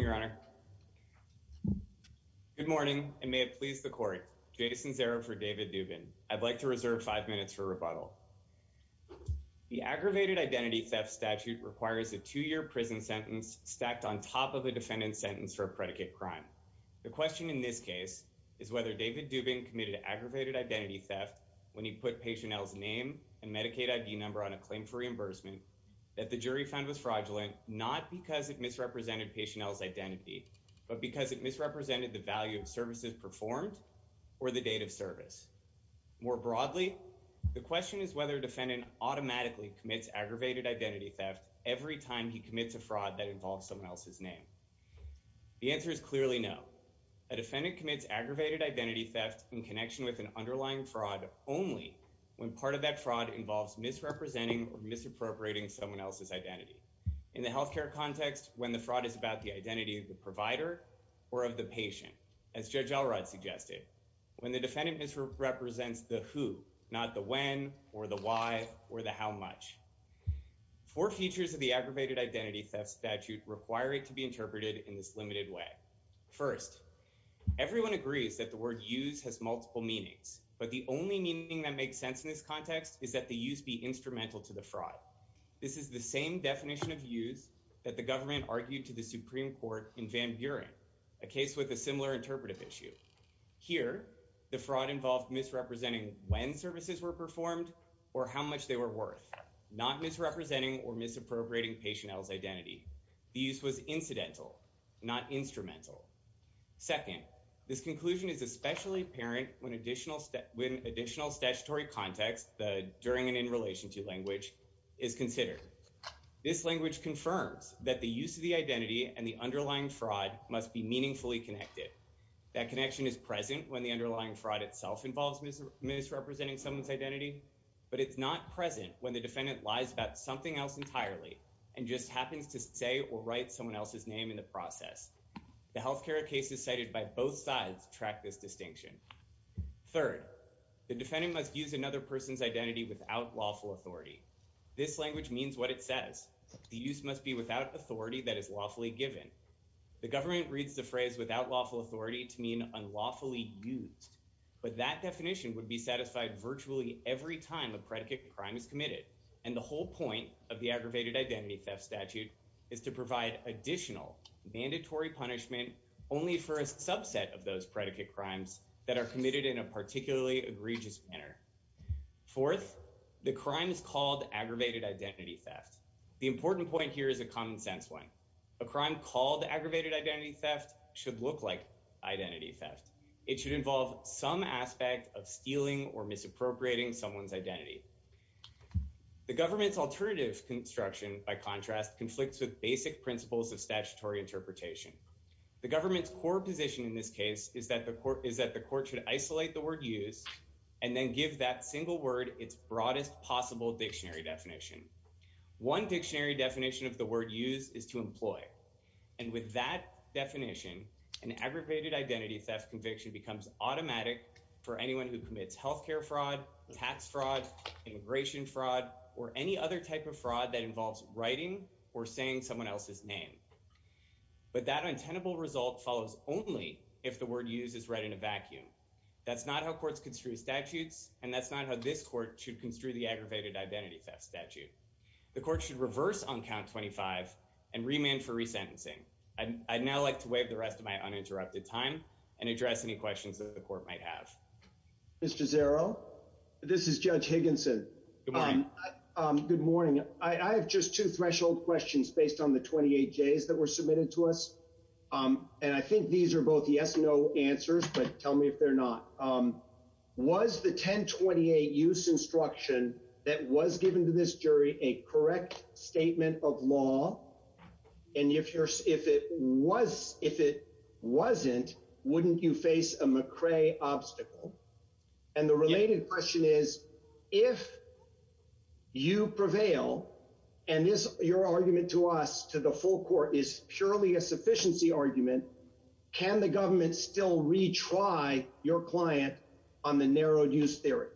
your honor good morning and may it please the court jason zero for david dubin i'd like to reserve five minutes for rebuttal the aggravated identity theft statute requires a two-year prison sentence stacked on top of a defendant's sentence for a predicate crime the question in this case is whether david dubin committed aggravated identity theft when he put patient l's name and medicaid id number on a claim for reimbursement that the jury found was fraudulent not because it misrepresented patient l's identity but because it misrepresented the value of services performed or the date of service more broadly the question is whether defendant automatically commits aggravated identity theft every time he commits a fraud that involves someone else's name the answer is clearly no a defendant commits aggravated identity theft in connection with an underlying fraud only when part of that fraud involves misrepresenting or misappropriating someone else's identity in the healthcare context when the fraud is about the identity of the provider or of the patient as judge elrod suggested when the defendant misrepresents the who not the when or the why or the how much four features of the aggravated identity theft statute require it to be interpreted in this limited way first everyone agrees that the word use has multiple meanings but the only meaning that makes sense in this case is that the use of the word use should be instrumental to the fraud this is the same definition of use that the government argued to the supreme court in van buren a case with a similar interpretive issue here the fraud involved misrepresenting when services were performed or how much they were worth not misrepresenting or misappropriating patient l's identity the use was incidental not instrumental second this conclusion is especially apparent when additional when additional statutory context the during and in relation to language is considered this language confirms that the use of the identity and the underlying fraud must be meaningfully connected that connection is present when the underlying fraud itself involves misrepresenting someone's identity but it's not present when the defendant lies about something else entirely and just happens to say or write someone else's name in the process the healthcare cases cited by both sides track this distinction third the defendant must use another person's identity without lawful authority this language means what it says the use must be without authority that is lawfully given the government reads the phrase without lawful authority to mean unlawfully used but that definition would be satisfied virtually every time a predicate crime is committed and the whole point of the aggravated identity theft statute is to provide additional mandatory punishment only for a subset of those predicate crimes that are committed in a particularly egregious manner fourth the crime is called aggravated identity theft the important point here is a common sense one a crime called aggravated identity theft should look like identity the government's alternative construction by contrast conflicts with basic principles of statutory interpretation the government's core position in this case is that the court is that the court should isolate the word use and then give that single word its broadest possible dictionary definition one dictionary definition of the word use is to employ and with that definition an aggravated identity theft conviction becomes automatic for anyone who commits health fraud tax fraud immigration fraud or any other type of fraud that involves writing or saying someone else's name but that untenable result follows only if the word use is read in a vacuum that's not how courts construe statutes and that's not how this court should construe the aggravated identity theft statute the court should reverse on count 25 and remand for resentencing and i'd now like to waive the rest of my uninterrupted time and address any questions that the court might have mr zero this is judge higginson good morning um good morning i i have just two threshold questions based on the 28 j's that were submitted to us um and i think these are both yes no answers but tell me if they're not um was the 1028 use instruction that was given to this jury a correct statement of law and if you're if it was if it wasn't wouldn't you face a mccray obstacle and the related question is if you prevail and this your argument to us to the full court is purely a sufficiency argument can the government still retry your client on the narrowed use theory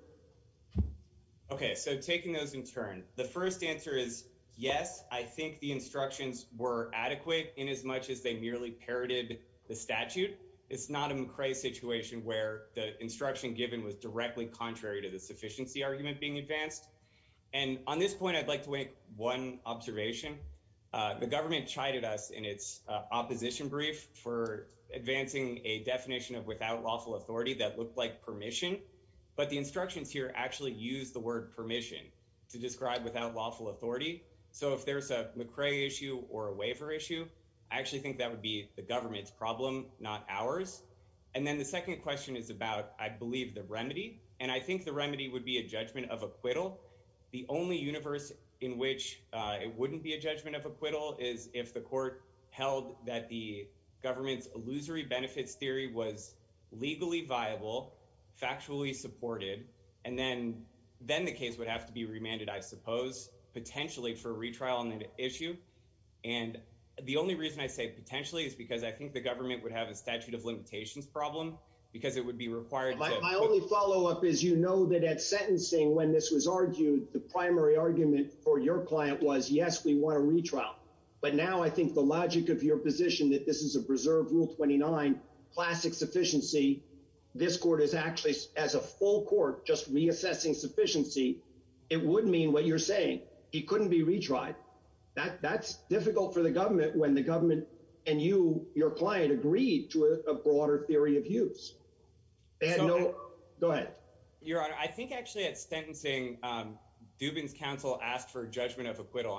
okay so taking those in turn the first answer is yes i think the instructions were adequate in as much as they merely parroted the statute it's not a mccray situation where the instruction given was directly contrary to the sufficiency argument being advanced and on this point i'd like to make one observation uh the government chided us in its opposition brief for advancing a definition of without lawful authority that looked like permission but the instructions here actually use the word permission to describe without lawful authority so if there's a mccray issue or a waiver issue i actually think that would be the government's problem not ours and then the second question is about i believe the remedy and i think the remedy would be a judgment of acquittal the only universe in which uh it wouldn't be a judgment of acquittal is if the court held that the government's illusory benefits theory was legally viable factually supported and then then the case would have to be remanded i suppose potentially for retrial on that issue and the only reason i say potentially is because i think the government would have a statute of limitations problem because it would be required my only follow-up is you know that at sentencing when this was argued the primary argument for your client was yes we want to retrial but now i think the logic of your position that this is a preserved rule 29 classic sufficiency this court is actually as a full court just reassessing sufficiency it would mean what you're saying he couldn't be retried that that's difficult for the government when the government and you your client agreed to a broader theory of use they had no go ahead your honor i think actually at sentencing um dubin's counsel asked for judgment of acquittal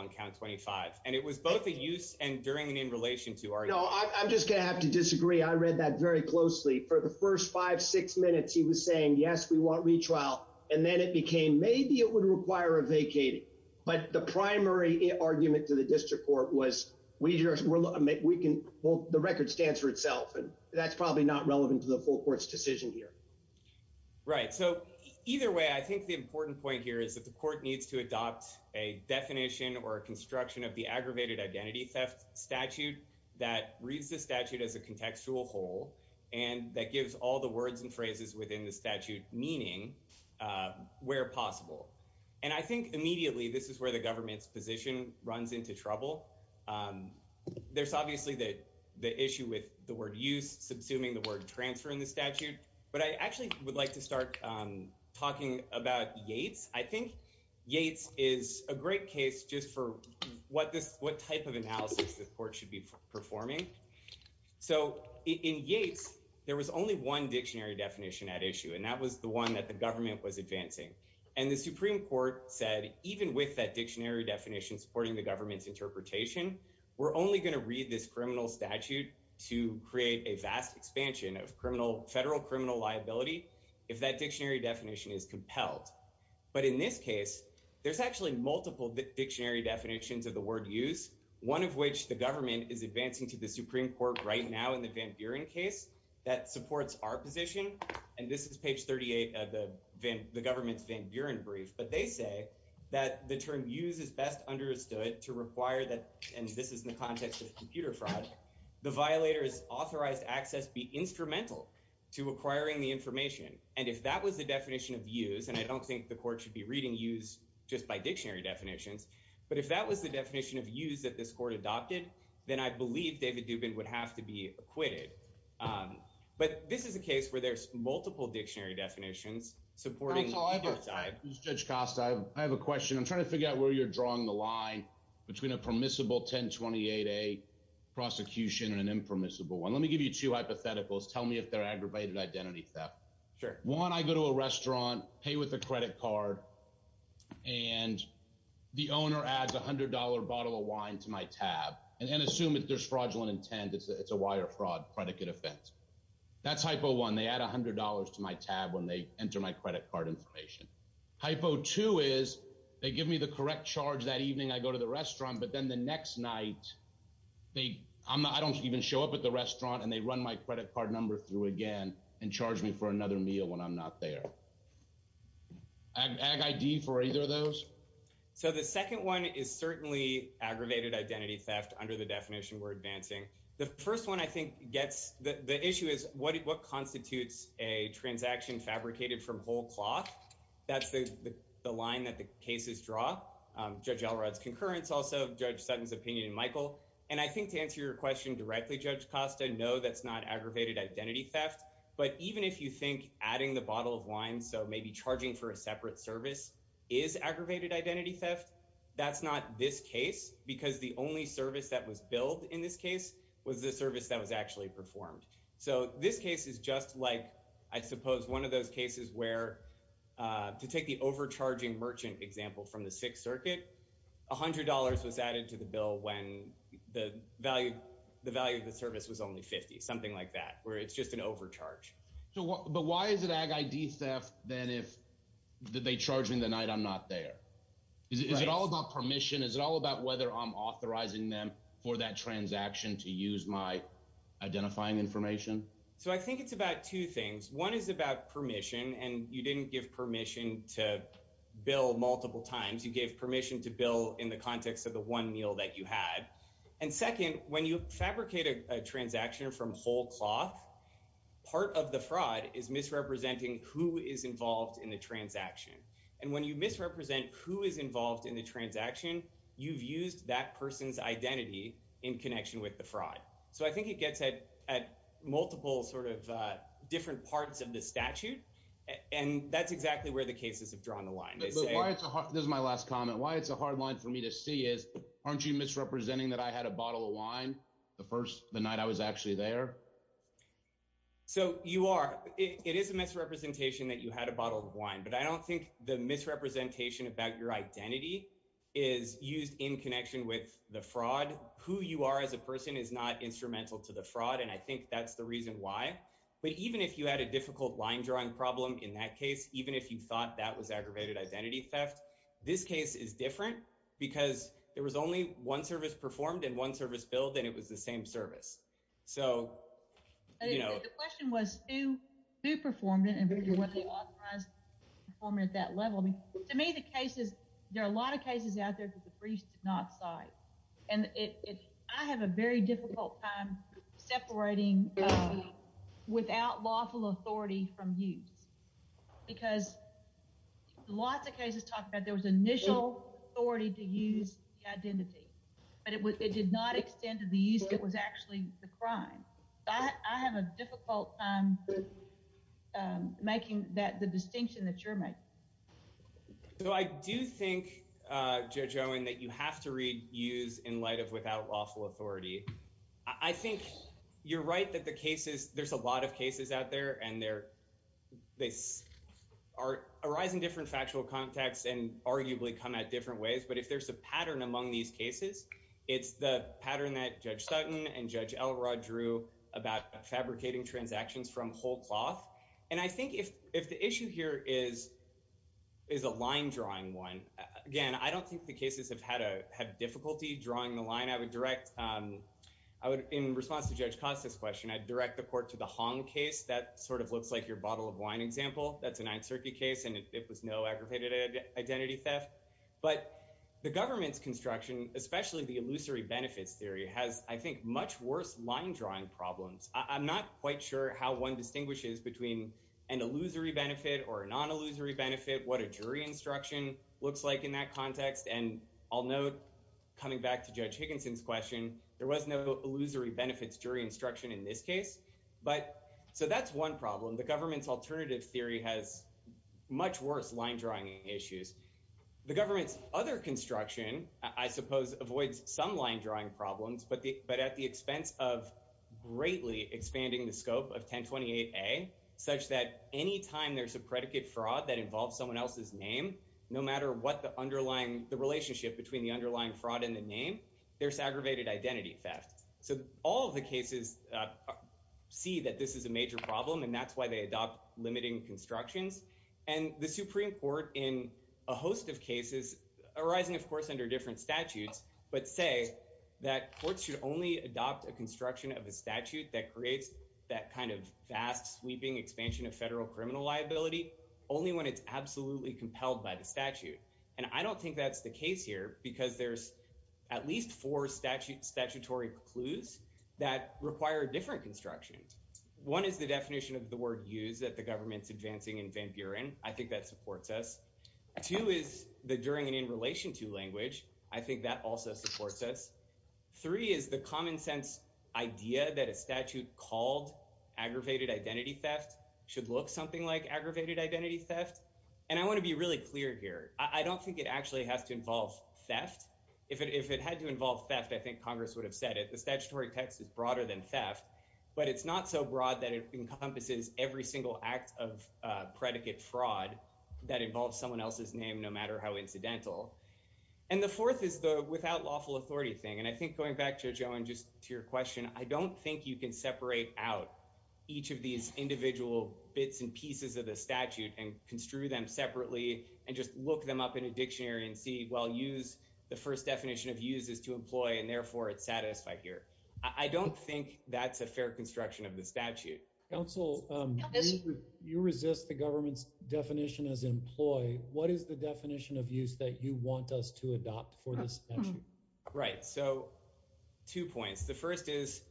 and it was both a use and during and in relation to our you know i'm just gonna have to disagree i read that very closely for the first five six minutes he was saying yes we want retrial and then it became maybe it would require a vacating but the primary argument to the district court was we just we can both the record stands for itself and that's probably not relevant to the full court's decision here right so either way i think the important point here is that the court needs to adopt a definition or a construction of the aggravated identity theft statute that reads the statute as a contextual hole and that gives all the words and phrases within the statute meaning uh where possible and i think immediately this is where the government's position runs into trouble um there's obviously that the issue with the word use subsuming the transfer in the statute but i actually would like to start um talking about yates i think yates is a great case just for what this what type of analysis the court should be performing so in yates there was only one dictionary definition at issue and that was the one that the government was advancing and the supreme court said even with that dictionary definition supporting the government's interpretation we're only going to read this criminal statute to create a vast expansion of criminal federal criminal liability if that dictionary definition is compelled but in this case there's actually multiple dictionary definitions of the word use one of which the government is advancing to the supreme court right now in the van buren case that supports our position and this is page 38 of the van the government's van buren brief but they say that the term use is best understood to require that and this is in the context of violators authorized access be instrumental to acquiring the information and if that was the definition of use and i don't think the court should be reading use just by dictionary definitions but if that was the definition of use that this court adopted then i believe david dubin would have to be acquitted um but this is a case where there's multiple dictionary definitions supporting judge cost i have a question i'm trying to figure out where you're drawing the line between a permissible 1028a prosecution and an impermissible one let me give you two hypotheticals tell me if they're aggravated identity theft sure one i go to a restaurant pay with a credit card and the owner adds a hundred dollar bottle of wine to my tab and assume if there's fraudulent intent it's a wire fraud predicate offense that's hypo one they add a hundred dollars to my tab when they enter my credit card information hypo two is they give me the correct charge that evening i go to the restaurant but then the next night they i don't even show up at the restaurant and they run my credit card number through again and charge me for another meal when i'm not there ag id for either of those so the second one is certainly aggravated identity theft under the definition we're advancing the first one i think gets the issue is what constitutes a transaction fabricated from whole cloth that's the the line that the cases draw um judge elrod's concurrence also judge sutton's opinion michael and i think to answer your question directly judge costa no that's not aggravated identity theft but even if you think adding the bottle of wine so maybe charging for a separate service is aggravated identity theft that's not this case because the only service that was billed in this case was the service that was actually performed so this case is just like i suppose one of those cases where uh to take the overcharging merchant example from the sixth circuit a hundred dollars was added to the bill when the value the value of the service was only 50 something like that where it's just an overcharge so what but why is it ag id theft then if they charge me the night i'm not there is it all about permission is it all about whether i'm authorizing them for that transaction to use my identifying information so i think it's about two things one is about permission and you didn't give permission to bill multiple times you gave permission to bill in the context of the one meal that you had and second when you fabricate a transaction from whole cloth part of the fraud is misrepresenting who is involved in the transaction and when you misrepresent who is involved in the transaction you've used that person's identity in connection with the fraud so i think it gets at at multiple sort of uh different parts of the statute and that's exactly where the cases have drawn the line this is my last comment why it's a hard line for me to see is aren't you misrepresenting that i had a bottle of wine the first the night i was actually there so you are it is a misrepresentation that you had a bottle of wine but i don't think the misrepresentation about your identity is used in connection with the fraud who you are as a person is not instrumental to the fraud and i think that's the reason why but even if you had a difficult line drawing problem in that case even if you thought that was aggravated identity theft this case is different because there was only one service performed and one service billed and it was the same service so you know the question was who who performed it and what they authorized performing at that level to me the cases there are a lot of cases out there that the briefs did not cite and it i have a very difficult time separating without lawful authority from use because lots of cases talk about there was initial authority to use the identity but it was it did not extend to the use that was actually the crime i have a difficult time making that the distinction that you're making so i do think uh judge owen that you have to read use in light of without lawful authority i think you're right that the cases there's a lot of cases out there and they're they are arising different factual contexts and arguably come at different ways but if there's a pattern among these cases it's the pattern that judge sutton and judge elrod drew about fabricating transactions from whole cloth and i think if if the issue here is is a line drawing one again i don't think the cases have had a have difficulty drawing the line i would direct um i would in response to judge costas question i'd direct the court to the hong case that sort of looks like your bottle of wine example that's a ninth circuit case and it was no aggravated identity theft but the government's construction especially the illusory benefits theory has i think much worse line drawing problems i'm not quite sure how one distinguishes between an illusory benefit or a non-illusory benefit what a jury instruction looks like in that context and i'll note coming back to judge higginson's question there was no illusory benefits jury instruction in this case but so that's one problem the government's alternative theory has much worse line drawing issues the government's other construction i suppose avoids some line drawing problems but the but at the expense of greatly expanding the scope of 1028a such that any time there's a predicate fraud that involves someone else's name no matter what the underlying the relationship between the underlying fraud and the name there's aggravated identity theft so all the cases see that this is a major problem and that's why they adopt limiting constructions and the supreme court in a host of a statute that creates that kind of vast sweeping expansion of federal criminal liability only when it's absolutely compelled by the statute and i don't think that's the case here because there's at least four statute statutory clues that require different constructions one is the definition of the word use that the government's advancing in van buren i think that supports us two is the during and in relation to language i think that also supports us three is the common sense idea that a statute called aggravated identity theft should look something like aggravated identity theft and i want to be really clear here i don't think it actually has to involve theft if it if it had to involve theft i think congress would have said it the statutory text is broader than theft but it's not so broad that it encompasses every single act of uh predicate fraud that involves someone else's name no matter how incidental and the fourth is the without lawful authority thing and i think going back to joe and just to your question i don't think you can separate out each of these individual bits and pieces of the statute and construe them separately and just look them up in a dictionary and see well use the first definition of use is to employ and therefore it's satisfied here i don't think that's a fair construction of the statute council you resist the government's definition as employ what is the definition of use that you want us to adopt for this issue right so two points the first is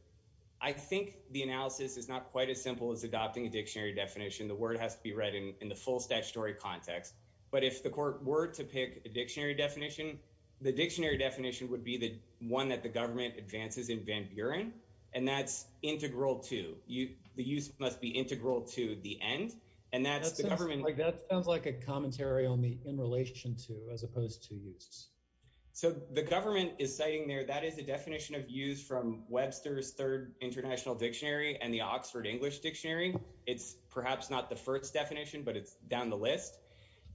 i think the analysis is not quite as simple as adopting a dictionary definition the word has to be read in the full statutory context but if the court were to pick a dictionary definition the dictionary definition would be the one that the government advances in van buren and that's integral to you the use must be integral to the end and that's the government like that sounds like a commentary on the in relation to as opposed to use so the government is citing there that is a definition of use from webster's third international dictionary and the oxford english dictionary it's perhaps not the first definition but it's down the list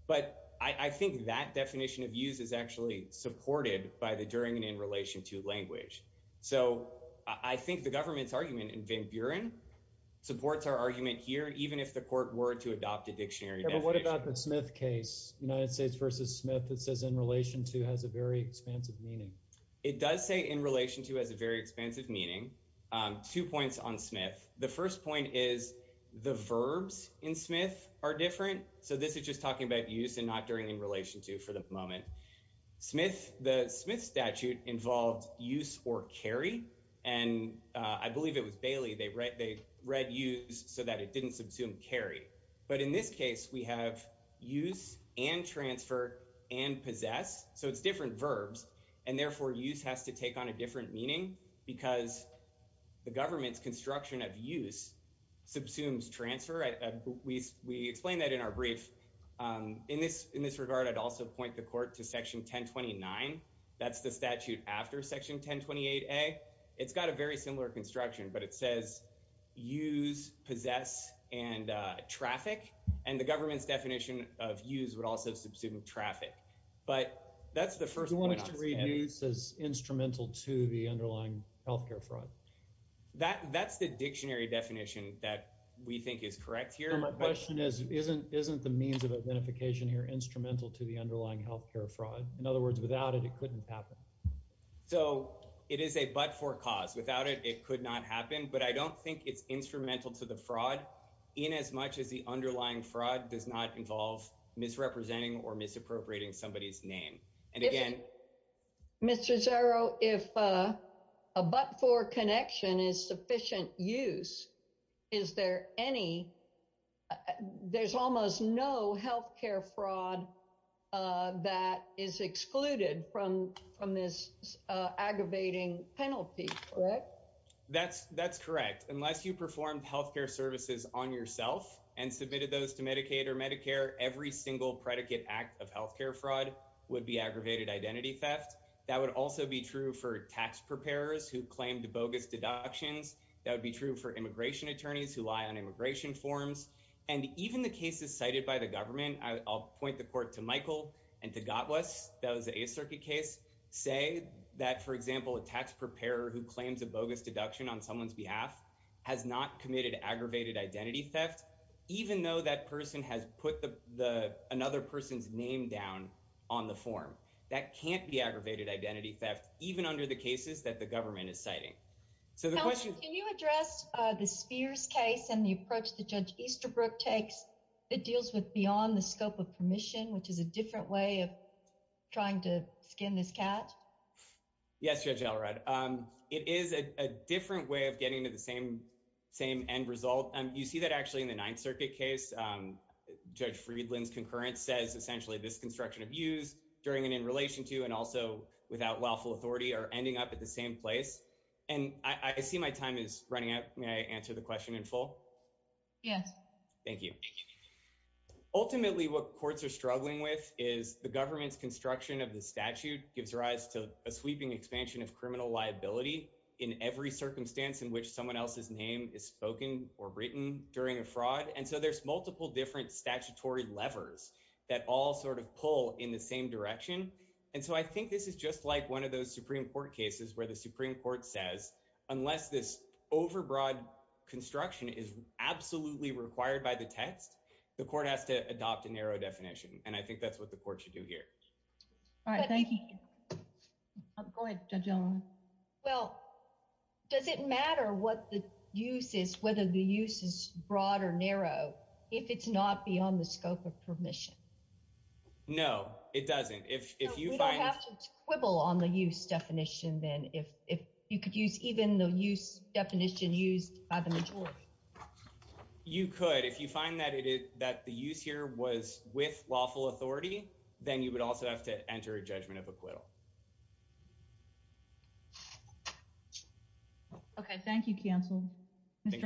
but i i think that definition of use is actually supported by the during and in relation to language so i think the government's argument in van buren supports our argument here even if the court were to adopt a dictionary but what about the smith case united states versus smith that says in relation to has a very expansive meaning it does say in relation to as a very expansive meaning um two points on smith the first point is the verbs in smith are different so this is just talking about use and not during in relation to for the moment smith the smith statute involved use or carry and i believe it was bailey they read they didn't subsume carry but in this case we have use and transfer and possess so it's different verbs and therefore use has to take on a different meaning because the government's construction of use subsumes transfer we we explain that in our brief um in this in this regard i'd also point the court to section 1029 that's the statute after section 1028a it's got a very similar construction but it says use possess and uh traffic and the government's definition of use would also subsume traffic but that's the first one is to read news as instrumental to the underlying health care fraud that that's the dictionary definition that we think is correct here my question is isn't isn't the means of identification here instrumental to the underlying health care fraud in other words without it it couldn't happen so it is a but for cause without it it could not happen but i don't think it's instrumental to the fraud in as much as the underlying fraud does not involve misrepresenting or misappropriating somebody's name and again mr zero if uh a but for connection is sufficient use is there any there's almost no health care fraud uh that is excluded from from this uh aggravating penalty correct that's that's correct unless you performed health care services on yourself and submitted those to medicaid or medicare every single predicate act of health care fraud would be aggravated identity theft that would also be true for tax preparers who claimed bogus deductions that would be true for immigration attorneys who lie on immigration forms and even the cases cited by the government i'll point the court to michael and to got was that was a circuit case say that for example a tax preparer who claims a bogus deduction on someone's behalf has not committed aggravated identity theft even though that person has put the the another person's name down on the form that can't be aggravated identity theft even under the cases that the government is citing so the question can you address uh the spears case and the approach the judge easterbrook takes it deals with beyond the scope of permission which is a different way of trying to skin this cat yes judge elrod um it is a different way of getting to the same same end result and you see that actually in the ninth circuit case um judge friedland's concurrent says essentially this construction of use during and in relation to and also without lawful authority are ending up at the same place and i i see my time is running out may i answer the question in full yes thank you ultimately what courts are struggling with is the government's construction of the statute gives rise to a sweeping expansion of criminal liability in every circumstance in which someone else's name is spoken or written during a fraud and so there's multiple different statutory levers that all sort of pull in the same direction and so i think this is just like one of those supreme court cases where the supreme court says unless this overbroad construction is absolutely required by the text the court has to adopt a narrow definition and i think that's what the court should do here all right thank you i'm going to gentlemen well does it matter what the use is whether the use is broad or narrow if it's not beyond the scope of permission no it doesn't if if you don't have to quibble on the use definition then if if you could use even the use definition used by the majority you could if you find that it is that the use here was with lawful authority then you would also have to enter a judgment of acquittal okay thank you counsel thank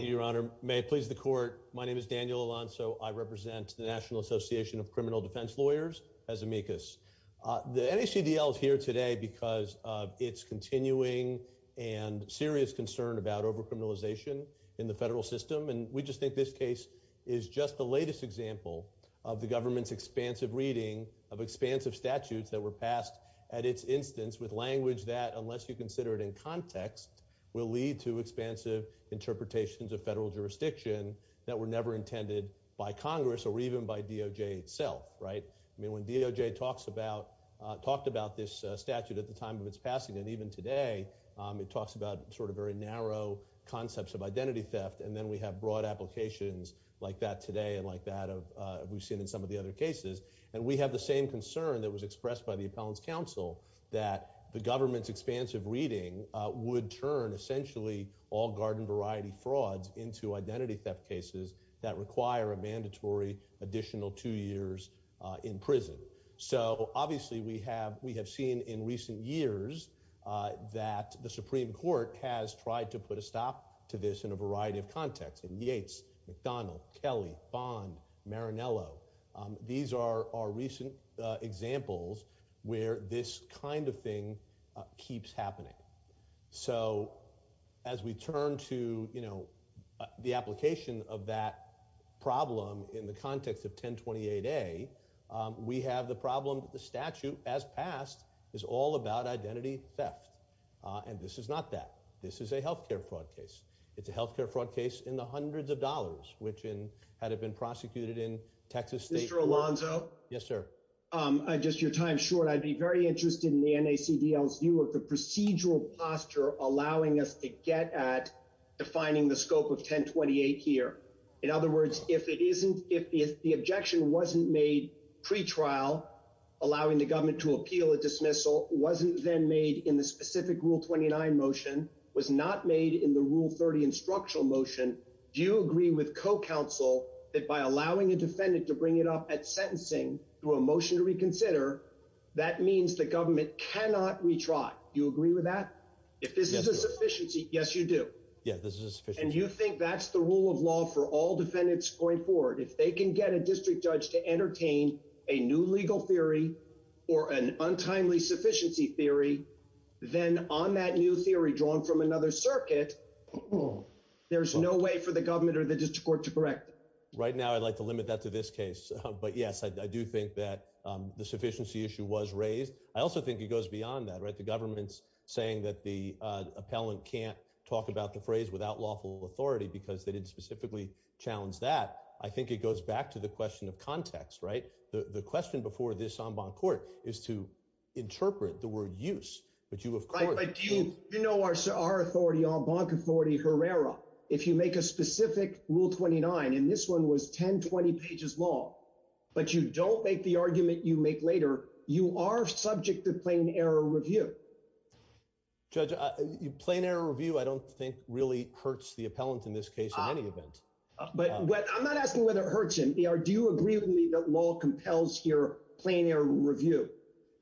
you your honor may it please the court my name is daniel alonso i represent the national association of criminal defense lawyers as amicus uh the nacdl is here today because of its continuing and serious concern about over criminalization in the federal system and we just think this case is just the latest example of the government's expansive reading of expansive statutes that were passed at its instance with language that unless you consider it in context will lead to expansive interpretations of federal jurisdiction that were never intended by congress or even by doj itself right i mean when doj talks about uh talked about this statute at the time of its passing and even today um it talks about sort of very narrow concepts of identity theft and then we have broad applications like that today and like that of uh we've seen in some of the other cases and we have the same concern that was expressed by the appellants council that the government's expansive reading uh would turn essentially all garden variety frauds into identity theft cases that require a mandatory additional two years uh in prison so obviously we have we have seen in recent years uh that the supreme court has tried to put a stop to this in a variety of contexts in yates mcdonnell kelly bond marinello these are our recent examples where this kind of thing keeps happening so as we turn to you know the application of that problem in the context of 1028a we have the problem the statute as passed is all about identity theft and this is not that this is a health care fraud case it's a health care fraud case in the hundreds of dollars which in had it been prosecuted in texas state alonzo yes sir i just your time short i'd be very interested in the nacdl's view of the procedural posture allowing us to get at defining the scope of 1028 here in other words if it isn't if the objection wasn't made pre-trial allowing the government to appeal a dismissal wasn't then made in the specific rule 29 motion was not made in the rule 30 instructional motion do you agree with co-counsel that by allowing a defendant to bring it up at sentencing through a motion to reconsider that means the government cannot retry do you agree with that if this is a sufficiency yes you do yeah this is and you think that's the rule of law for all defendants going forward if they can get a district judge to entertain a new legal theory or an untimely sufficiency theory then on that new theory drawn from another circuit there's no way for the government or the district to correct right now i'd like to limit that to this case but yes i do think that the sufficiency issue was raised i also think it goes beyond that right the government's saying that the uh appellant can't talk about the phrase without lawful authority because they didn't specifically challenge that i think it goes back to the question of context right the the question before this en banc court is to interpret the word use but you of course like do you know our our authority on banc authority herrera if you make a specific rule 29 and this one was 10 20 pages long but you don't make the argument you make later you are subject to plain error review judge a plain error review i don't think really hurts the appellant in this case in any event but i'm not asking whether it hurts him do you agree with me that law compels your plain error review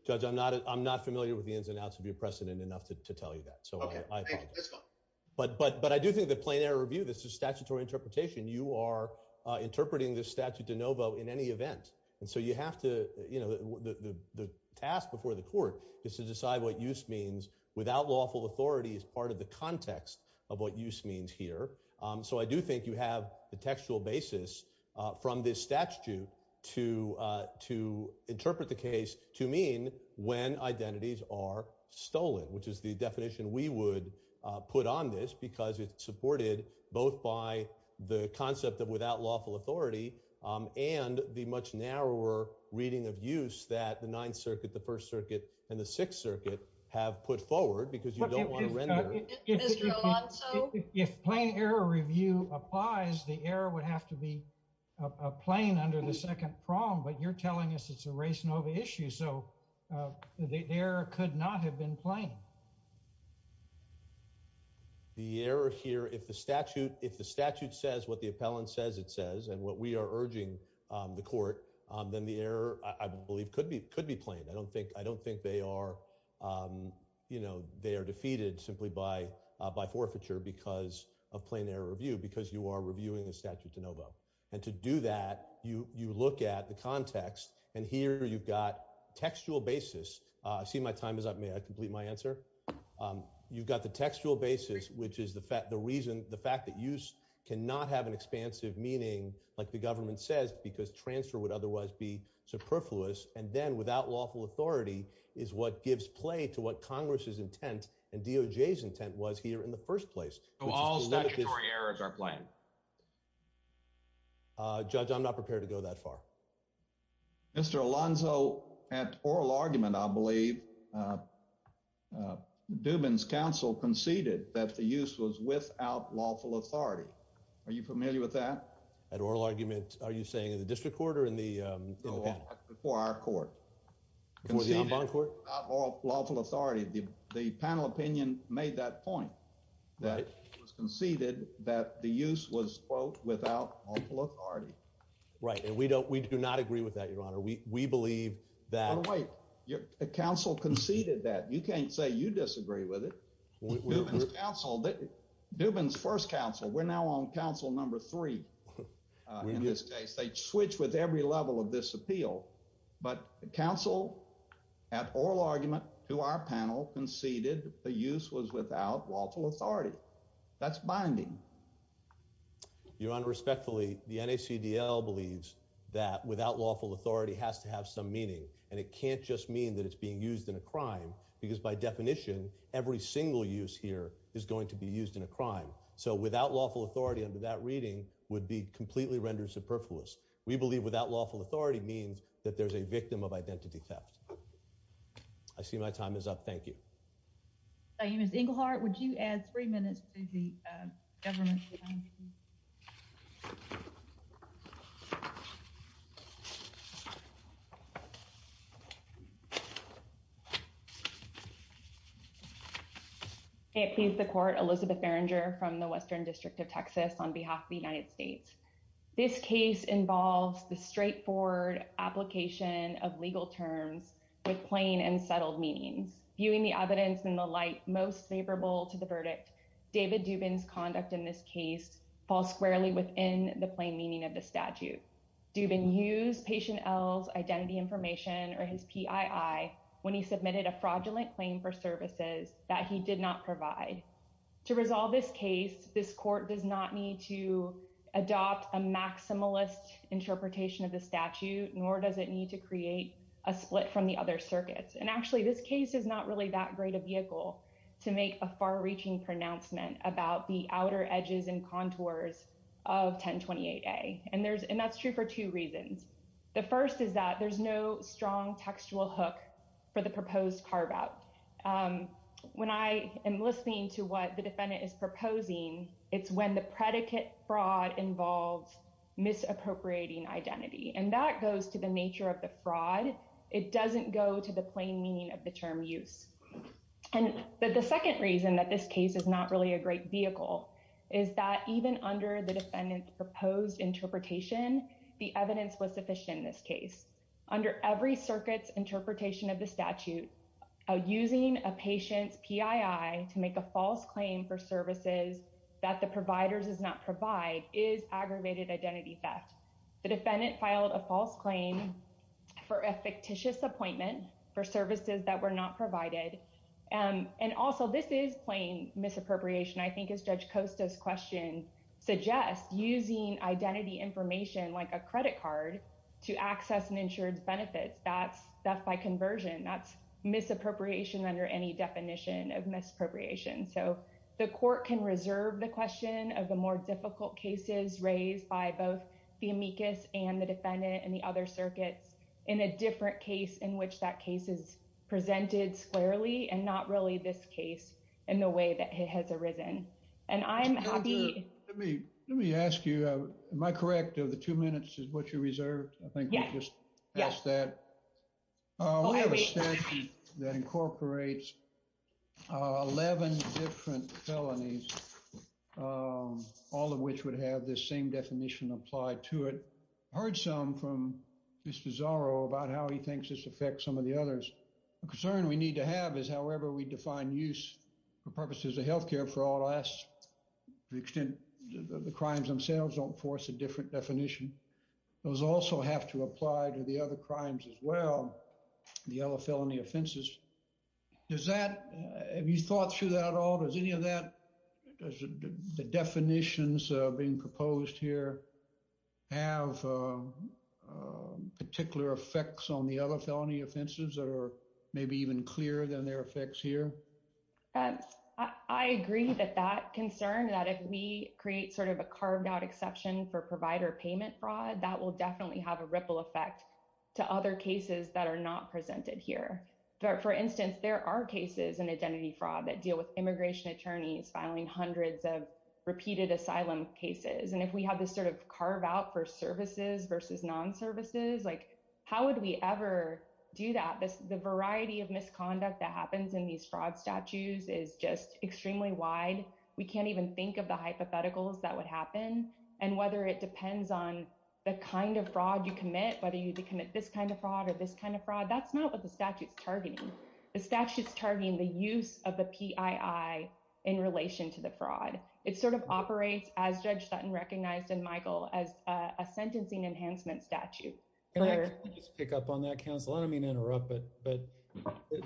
judge i'm not i'm not familiar with the ins and outs of your precedent enough to tell you that so but but but i do think the plain error review this is statutory interpretation you are uh interpreting this statute de novo in any event and so you have to you know the the task before the court is to decide what use means without lawful authority is part of the context of what use means here um so i do think you have the textual basis uh from this statute to uh to the definition we would uh put on this because it's supported both by the concept of without lawful authority um and the much narrower reading of use that the ninth circuit the first circuit and the sixth circuit have put forward because you don't want to render mr alonso if plain error review applies the error would have to be a plane under the second prong but you're telling us it's a race nova issue so the error could not have been playing the error here if the statute if the statute says what the appellant says it says and what we are urging um the court um then the error i believe could be could be plain i don't think i don't think they are um you know they are defeated simply by uh by forfeiture because of plain error review because you are reviewing the and to do that you you look at the context and here you've got textual basis uh see my time is up may i complete my answer um you've got the textual basis which is the fact the reason the fact that use cannot have an expansive meaning like the government says because transfer would otherwise be superfluous and then without lawful authority is what gives play to what congress's intent and errors are playing uh judge i'm not prepared to go that far mr alonso at oral argument i believe dubin's council conceded that the use was without lawful authority are you familiar with that at oral argument are you saying in the district court or in the um before our court before the that the use was without lawful authority right and we don't we do not agree with that your honor we we believe that wait your council conceded that you can't say you disagree with it dubin's first council we're now on council number three uh in this case they switch with every level of this appeal but the council at oral argument to our panel conceded the use was without lawful authority that's binding your honor respectfully the nacdl believes that without lawful authority has to have some meaning and it can't just mean that it's being used in a crime because by definition every single use here is going to be used in a crime so without lawful authority under that reading would be completely rendered superfluous we believe without lawful authority means that there's a victim of identity theft i see my time is up thank you i am miss inglehart would you add three minutes to the government it is the court elizabeth barringer from the western district of texas on behalf of the united states this case involves the straightforward application of legal terms with plain and to the verdict david dubin's conduct in this case falls squarely within the plain meaning of the statute dubin used patient l's identity information or his pii when he submitted a fraudulent claim for services that he did not provide to resolve this case this court does not need to adopt a maximalist interpretation of the statute nor does it need to create a split from the other circuits and actually this case is not really that great a vehicle to make a far-reaching pronouncement about the outer edges and contours of 1028a and there's and that's true for two reasons the first is that there's no strong textual hook for the proposed carve out when i am listening to what the defendant is proposing it's when the predicate fraud involves misappropriating identity and that goes to the nature of the fraud it doesn't go to the plain meaning of the term use and the second reason that this case is not really a great vehicle is that even under the defendant's proposed interpretation the evidence was sufficient in this case under every circuit's interpretation of the statute using a patient's pii to make a false claim for services that the providers does not provide is aggravated identity theft the defendant filed a false claim for a fictitious appointment for services that were not provided and and also this is plain misappropriation i think as judge costa's question suggests using identity information like a credit card to access and insured benefits that's that's by conversion that's misappropriation under any definition of difficult cases raised by both the amicus and the defendant and the other circuits in a different case in which that case is presented squarely and not really this case in the way that it has arisen and i'm happy let me let me ask you uh am i correct of the two minutes is what you reserved i think we just passed that uh we have a statute that incorporates uh 11 different felonies um all of which would have this same definition applied to it heard some from mr zorro about how he thinks this affects some of the others a concern we need to have is however we define use for purposes of health care for all us to the extent the crimes themselves don't force a different definition those also have to apply to the other crimes as well the other felony offenses does that have you thought through that at all does any of that does the definitions uh being proposed here have uh particular effects on the other felony offenses that are maybe even clearer than their effects here and i agree that that concern that if we create sort of a carved out exception for provider payment fraud that will definitely have a ripple effect to other cases that are not presented here for instance there are cases in identity fraud that deal with immigration attorneys filing hundreds of repeated asylum cases and if we have this sort of carve out for services versus non-services like how would we ever do that this the variety of misconduct that happens in these fraud statutes is just extremely wide we can't even think of the on the kind of fraud you commit whether you need to commit this kind of fraud or this kind of fraud that's not what the statute's targeting the statute's targeting the use of the pii in relation to the fraud it sort of operates as judge sutton recognized in michael as a sentencing enhancement statute can i just pick up on that counsel i don't mean to interrupt but but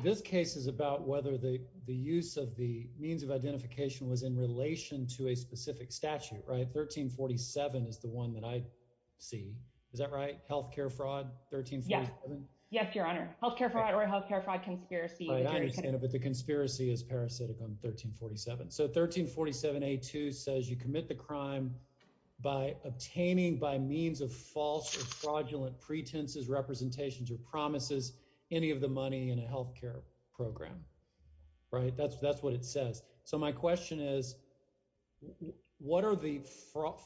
this case is about whether the the use of the means of identification was in relation to a specific statute right 1347 is the one that i see is that right health care fraud 13 yeah yes your honor health care fraud or health care fraud conspiracy i understand but the conspiracy is parasitic on 1347 so 1347a2 says you commit the crime by obtaining by means of false or fraudulent pretenses representations or promises any of the money in a health care program right that's that's what it says so my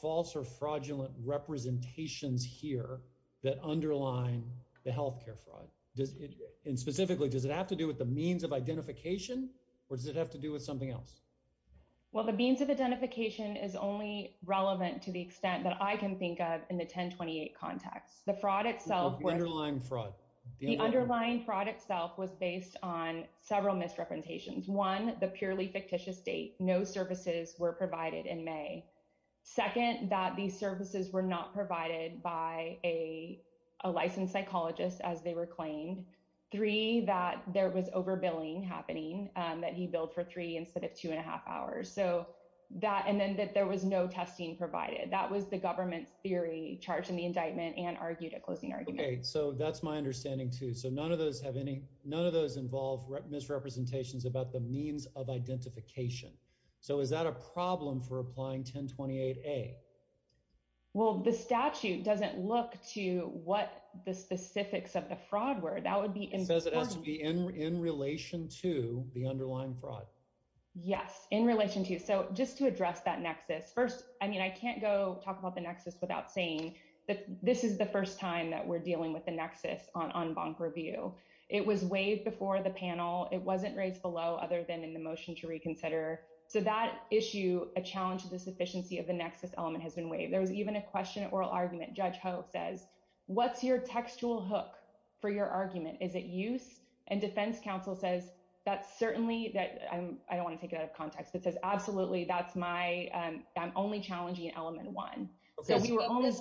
false or fraudulent representations here that underline the health care fraud does it and specifically does it have to do with the means of identification or does it have to do with something else well the means of identification is only relevant to the extent that i can think of in the 1028 context the fraud itself the underlying fraud the underlying fraud itself was based on several misrepresentations one the purely fictitious date no services were provided in may second that these services were not provided by a a licensed psychologist as they were claimed three that there was overbilling happening um that he billed for three instead of two and a half hours so that and then that there was no testing provided that was the government's theory charged in the indictment and argued a closing argument okay so that's my understanding too so none of those have any none of those involve misrepresentations about the means of identification so is that a problem for applying 1028a well the statute doesn't look to what the specifics of the fraud were that would be it says it has to be in in relation to the underlying fraud yes in relation to so just to address that nexus first i mean i can't go talk about the nexus without saying that this is the first time that we're dealing with the nexus on bonk review it was waived before the panel it wasn't raised below other than in the motion to reconsider so that issue a challenge to the sufficiency of the nexus element has been waived there was even a question oral argument judge ho says what's your textual hook for your argument is it use and defense counsel says that's certainly that i'm i don't want to take it out of context it says absolutely that's my um i'm only challenging element one so we were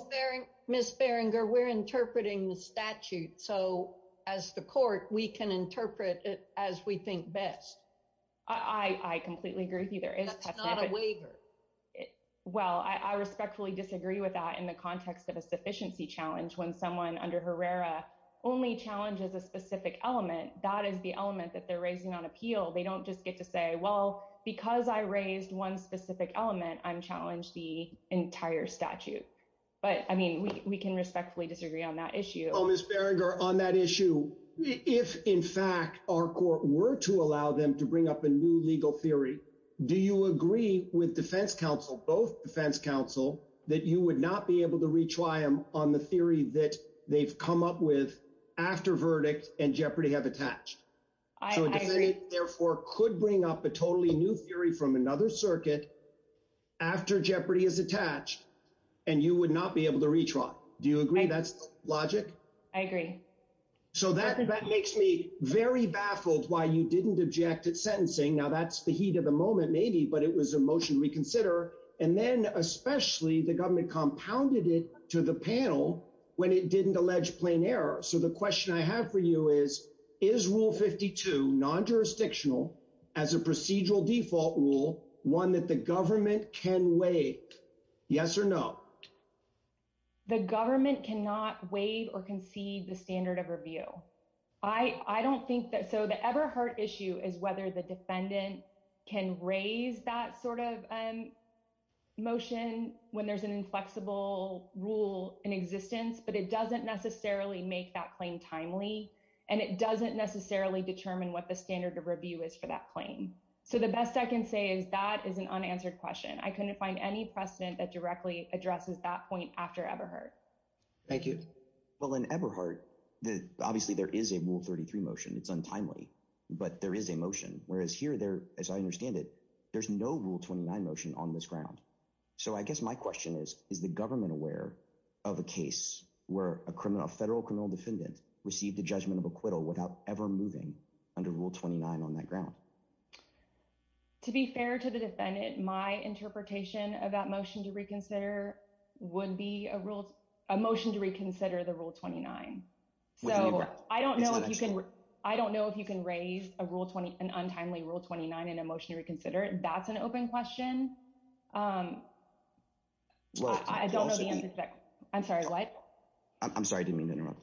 miss beringer we're interpreting the statute so as the court we can interpret it as we think best i i completely agree with you there is not a waiver well i respectfully disagree with that in the context of a sufficiency challenge when someone under herrera only challenges a specific element that is the element that they're raising on appeal they don't just get to say well because i raised one specific element i'm challenged the entire statute but i mean we can respectfully disagree on that issue oh miss berenger on that issue if in fact our court were to allow them to bring up a new legal theory do you agree with defense counsel both defense counsel that you would not be able to retry them on the theory that they've come up with after verdict and jeopardy have attached i agree therefore could bring up a totally new theory from another circuit after jeopardy is attached and you would not be able to retry do you agree that's logic i agree so that that makes me very baffled why you didn't object at sentencing now that's the heat of the moment maybe but it was a motion to reconsider and then especially the government is rule 52 non-jurisdictional as a procedural default rule one that the government can waive yes or no the government cannot waive or concede the standard of review i i don't think that so the everheart issue is whether the defendant can raise that sort of um motion when there's an and it doesn't necessarily determine what the standard of review is for that claim so the best i can say is that is an unanswered question i couldn't find any precedent that directly addresses that point after ever heard thank you well in everheart the obviously there is a rule 33 motion it's untimely but there is a motion whereas here there as i understand it there's no rule 29 motion on this ground so i guess my question is is the government aware of a case where a criminal federal criminal defendant received a judgment of acquittal without ever moving under rule 29 on that ground to be fair to the defendant my interpretation of that motion to reconsider would be a rule a motion to reconsider the rule 29 so i don't know if you can i don't know if you can raise a rule 20 an untimely rule 29 in a motion to reconsider that's an open question um i don't know the answer i'm sorry what i'm sorry i didn't mean to interrupt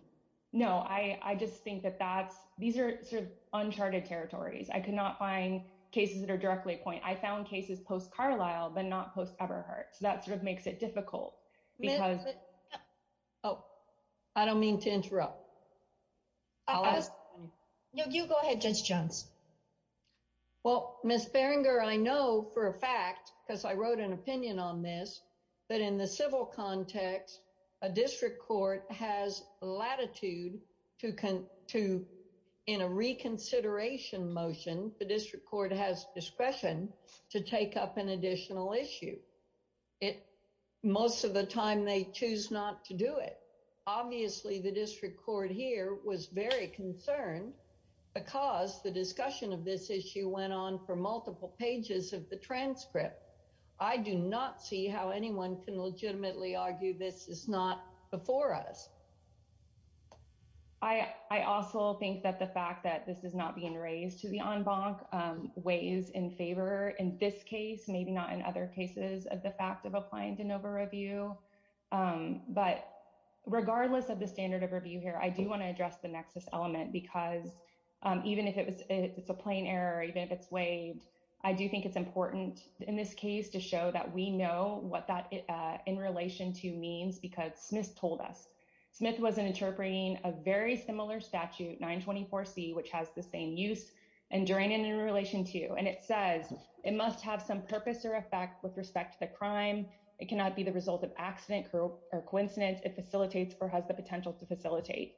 no i i just think that that's these are sort of uncharted territories i could not find cases that are directly point i found cases post carlisle but not post everheart so that sort of makes it difficult because oh i don't mean to interrupt i'll ask you go ahead judge jones well miss berenger i know for a fact because i wrote an opinion on this but in the civil context a district court has latitude to con to in a reconsideration motion the district court has discretion to take up an additional issue it most of the time they choose not to do it obviously the district court here was very concerned because the discussion of this issue went on for multiple pages of the transcript i do not see how anyone can legitimately argue this is not before us i i also think that the fact that this is not being raised to the en banc um weighs in favor in this case maybe not in other cases of the fact of applying de novo review um but regardless of the standard of review here i do want to address the nexus element because even if it was it's a plain error even if it's weighed i do think it's important in this case to show that we know what that in relation to means because smith told us smith was interpreting a very similar statute 924c which has the same use and during and in relation to and it says it must have some purpose or effect with respect to the crime it cannot be the result of accident or coincidence it facilitates or has the potential to facilitate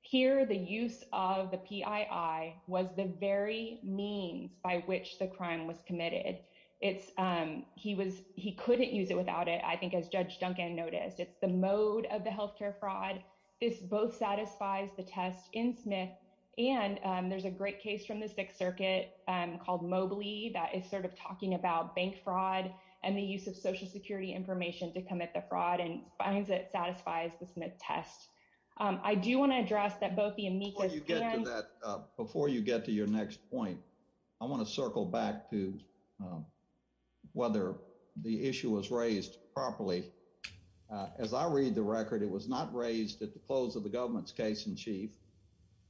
here the use of the pii was the very means by which the crime was committed it's um he was he couldn't use it without it i think as judge duncan noticed it's the mode of the health care fraud this both satisfies the test in smith and there's a great case from the sixth circuit um called mobiley that is sort of talking about bank fraud and the use of social security information to commit the fraud and finds it satisfies the smith test um i do want to address that both the amicus you get to that before you get to your next point i want to circle back to whether the issue was raised properly as i read the record it was not raised at the close of the government's case in chief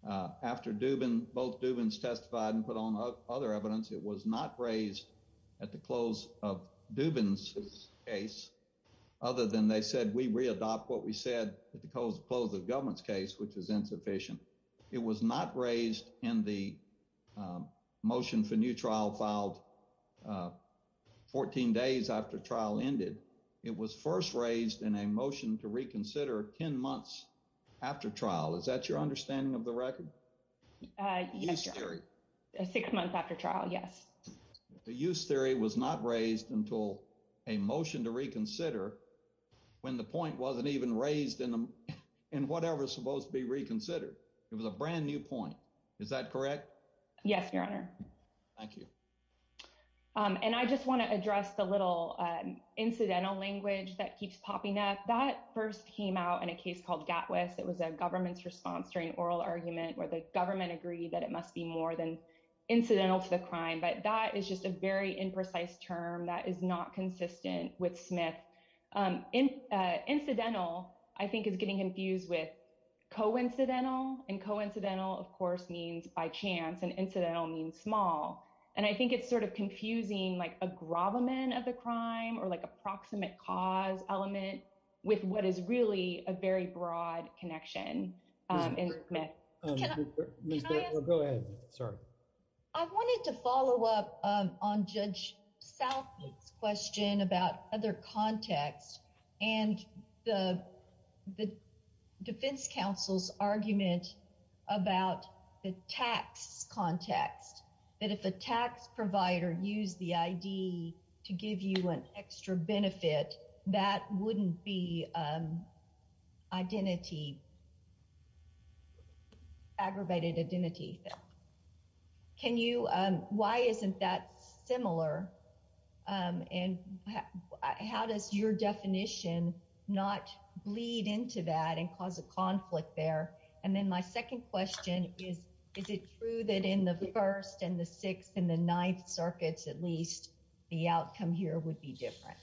uh after dubin both dubin's testified and put on other evidence it was not raised at the close of dubin's case other than they said we re-adopt what we said at the close close of government's case which was insufficient it was not raised in the motion for new trial filed 14 days after trial ended it was first raised in a motion to reconsider 10 months after trial is that your understanding of the record uh yes six months after trial yes the use theory was not raised until a motion to reconsider when the point wasn't even raised in the in whatever's supposed to be reconsidered it was a brand new point is that correct yes your honor thank you um and i just want to address the little um incidental language that keeps popping up that first came out in a case called gatwist it was a government's response during oral argument where the government agreed that it must be more than incidental to the crime but that is just a very imprecise term that is not consistent with smith um incidental i think is getting confused with coincidental and coincidental of course means by chance and incidental means small and i think it's sort of confusing like a gravamen of the crime or like a proximate cause element with what is really a very broad connection um in smith go ahead sorry i wanted to follow up um on judge south's question about other context and the the defense counsel's context that if a tax provider used the id to give you an extra benefit that wouldn't be um identity aggravated identity can you um why isn't that similar um and how does your definition not bleed into that and cause a conflict there and then my second question is is it true that in the first and the sixth and the ninth circuits at least the outcome here would be different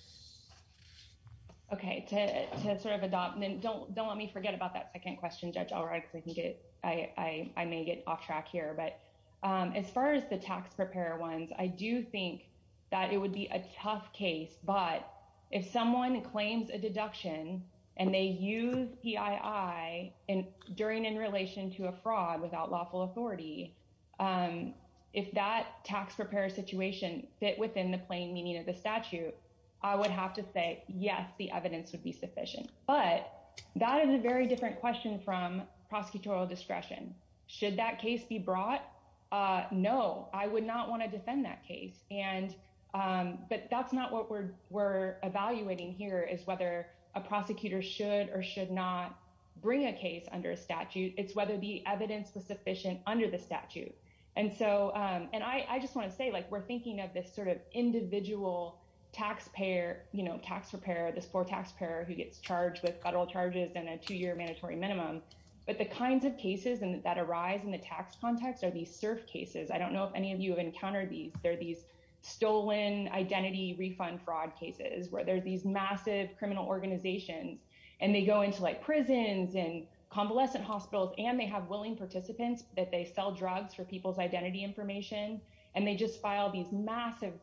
okay to to sort of adopt and then don't don't let me forget about that second question judge all right because i think it i i i may get off track here but um as far as the tax preparer ones i do think that it would be a tough case but if someone claims a deduction and they use pii and during in relation to a fraud without lawful authority um if that tax preparer situation fit within the plain meaning of the statute i would have to say yes the evidence would be sufficient but that is a very different question from prosecutorial discretion should that case be brought uh no i would not want to defend that case and um but that's not what we're we're evaluating here is whether a prosecutor should or should not bring a case under a statute it's whether the evidence was sufficient under the statute and so um and i i just want to say like we're thinking of this sort of individual taxpayer you know tax preparer this poor taxpayer who gets charged with federal charges and a two-year mandatory minimum but the kinds of cases and that arise in the tax context are these surf cases i don't know if any of you have encountered these they're these stolen identity refund fraud cases where there's these massive criminal organizations and they go into like prisons and convalescent hospitals and they have willing participants that they sell drugs for people's identity information and they just file these massive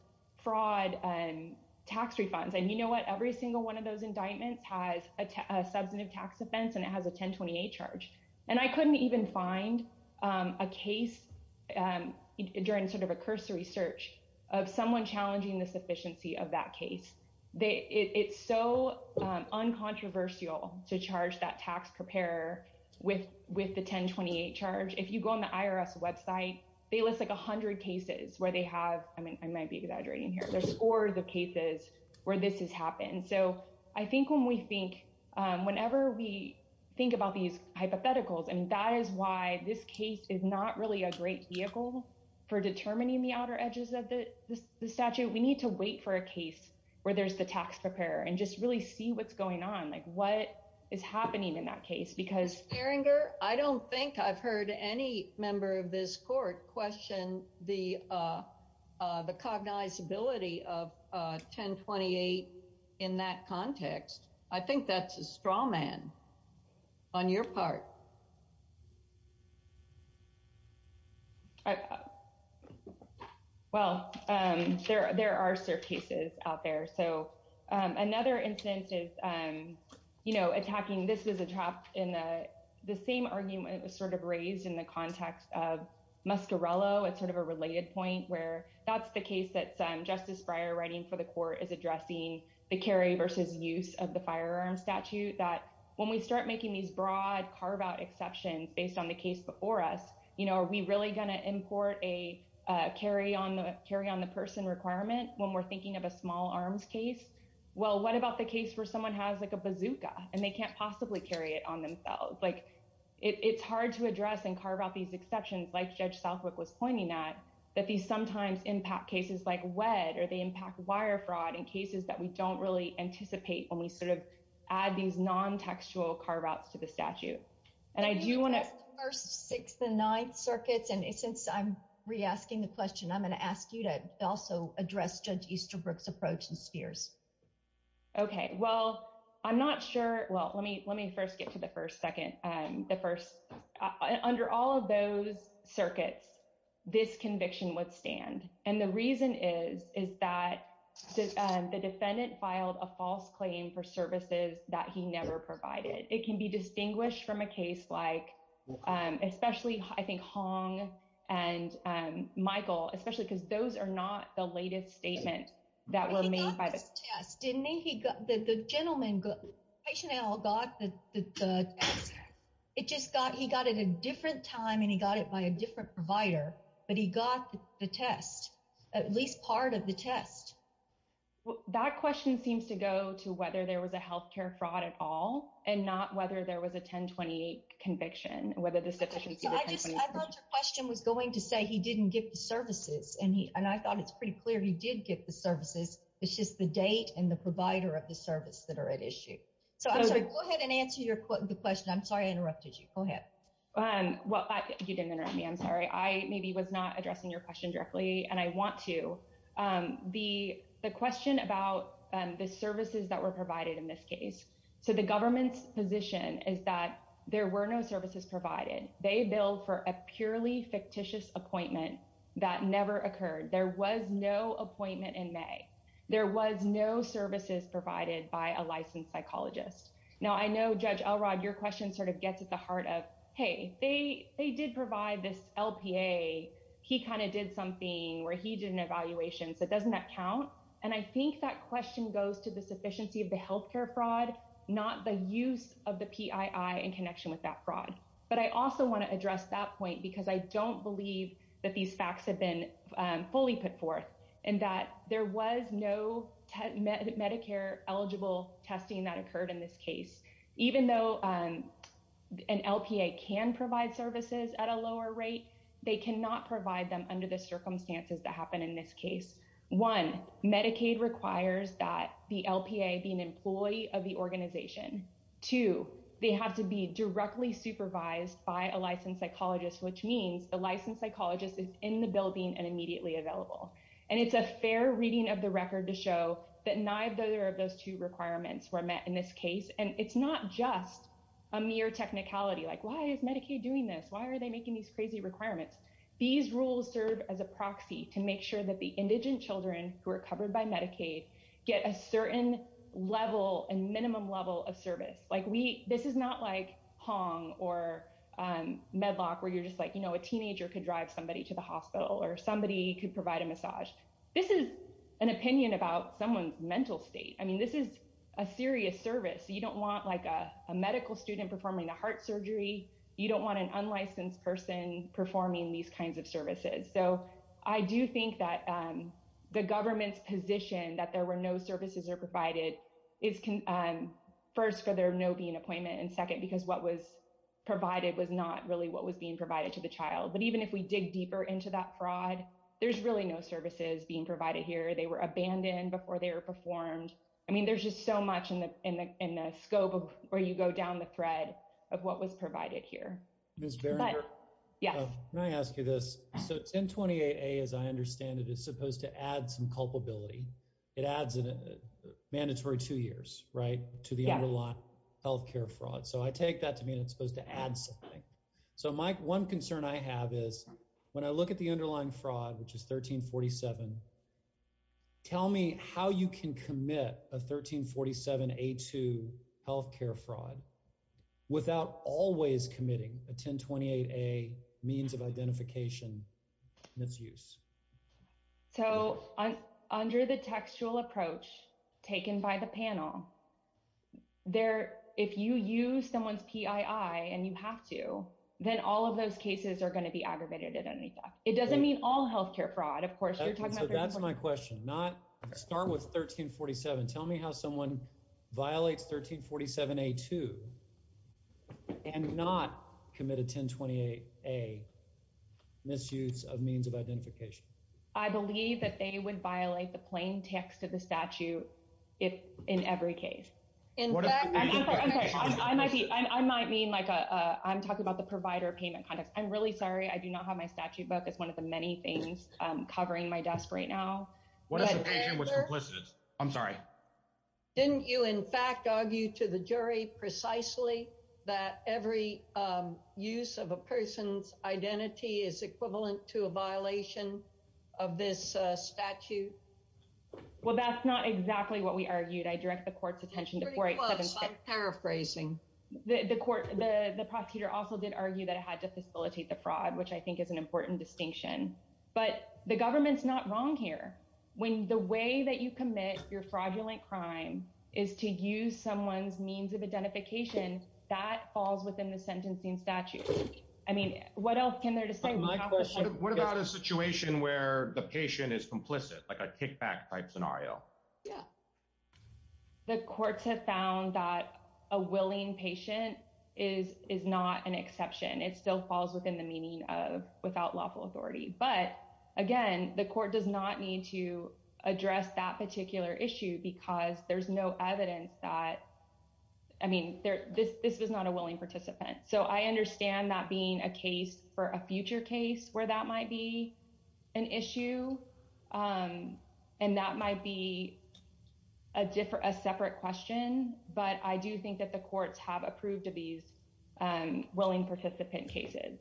fraud and tax refunds and you know what every single one of those indictments has a um a case um during sort of a cursory search of someone challenging the sufficiency of that case they it's so um uncontroversial to charge that tax preparer with with the 1028 charge if you go on the irs website they list like a hundred cases where they have i mean i might be exaggerating here the scores of cases where this has happened so i think when we think um whenever we think about these hypotheticals and that is why this case is not really a great vehicle for determining the outer edges of the the statute we need to wait for a case where there's the tax preparer and just really see what's going on like what is happening in that case because erringer i don't think i've heard any member of this court question the uh uh the cognizability of uh 1028 in that on your part well um there there are surf cases out there so um another instance is um you know attacking this was a trap in the the same argument was sort of raised in the context of muscarello it's sort of a related point where that's the case that's um justice brier writing for the court is addressing the carry versus use of the firearm statute that when we start making these broad carve-out exceptions based on the case before us you know are we really going to import a uh carry on the carry on the person requirement when we're thinking of a small arms case well what about the case where someone has like a bazooka and they can't possibly carry it on themselves like it's hard to address and carve out these exceptions like judge southwick was pointing at that these sometimes impact cases like wed or they impact wire fraud in cases that we don't really anticipate when we sort of add these non-textual carve-outs to the statute and i do want to first six the ninth circuits and since i'm re-asking the question i'm going to ask you to also address judge easterbrook's approach and spheres okay well i'm not sure well let me let me first get to the first second um the first under all of those circuits this conviction would stand and the reason is is that the defendant filed a false claim for services that he never provided it can be distinguished from a case like um especially i think hong and um michael especially because those are not the latest statement that were made by the test didn't he got the the gentleman good patient l got the the it just got he got it a different time and he got it by a different provider but he got the test at least part of the test that question seems to go to whether there was a health care fraud at all and not whether there was a 1028 conviction whether the sufficiency i just i thought your question was going to say he didn't get the services and he and i thought it's pretty clear he did get the services it's just the date and the provider of the service that are at issue so i'm sorry go ahead and answer your question i'm sorry i interrupted you go ahead um well you didn't interrupt me i'm sorry i maybe was not addressing your question directly and i want to um the the question about um the services that were provided in this case so the government's position is that there were no services provided they billed for a purely fictitious appointment that never occurred there was no appointment in was no services provided by a licensed psychologist now i know judge elrod your question sort of gets at the heart of hey they they did provide this lpa he kind of did something where he did an evaluation so doesn't that count and i think that question goes to the sufficiency of the health care fraud not the use of the pii in connection with that fraud but i also want to address that point because i don't believe that these facts have been fully put forth and that there was no medicare eligible testing that occurred in this case even though um an lpa can provide services at a lower rate they cannot provide them under the circumstances that happen in this case one medicaid requires that the lpa be an employee of the organization two they have to be directly supervised by a licensed psychologist which means the licensed psychologist is in the to show that neither of those two requirements were met in this case and it's not just a mere technicality like why is medicaid doing this why are they making these crazy requirements these rules serve as a proxy to make sure that the indigent children who are covered by medicaid get a certain level and minimum level of service like we this is not like hong or um medlock where you're just like you know a teenager could drive somebody to the hospital or somebody could provide a massage this is an opinion about someone's mental state i mean this is a serious service you don't want like a medical student performing a heart surgery you don't want an unlicensed person performing these kinds of services so i do think that um the government's position that there were no services are provided is um first for there no being appointment and second because what was provided was not really what was being provided to the child but even if we dig deeper into that there were no services being provided here they were abandoned before they were performed i mean there's just so much in the in the in the scope of where you go down the thread of what was provided here miss barringer yeah can i ask you this so 1028a as i understand it is supposed to add some culpability it adds a mandatory two years right to the underlying health care fraud so i take that to mean it's supposed to add something so my one concern i have is when i say 1347 tell me how you can commit a 1347 a2 health care fraud without always committing a 1028a means of identification misuse so under the textual approach taken by the panel there if you use someone's pii and you have to then all of those cases are going to be aggravated it doesn't mean all health care fraud of course that's my question not start with 1347 tell me how someone violates 1347a2 and not commit a 1028a misuse of means of identification i believe that they would violate the plain text of the statute if in every case i might mean like a i'm talking about the provider payment context i'm really sorry i do not have my statute book it's one of the many things um covering my desk right now i'm sorry didn't you in fact argue to the jury precisely that every um use of a person's identity is equivalent to a violation of this uh statute well that's not exactly what we argued i direct the court's attention to paraphrasing the the court the the prosecutor also did argue that had to facilitate the fraud which i think is an important distinction but the government's not wrong here when the way that you commit your fraudulent crime is to use someone's means of identification that falls within the sentencing statute i mean what else can there to say what about a situation where the patient is complicit like a kickback type scenario yeah the courts have found that a willing patient is is not an exception it still falls within the meaning of without lawful authority but again the court does not need to address that particular issue because there's no evidence that i mean there this this was not a willing participant so i understand that being a case for a future case where that might be an issue um and that might be a different a separate question but i do think that the courts have approved of these um willing participant cases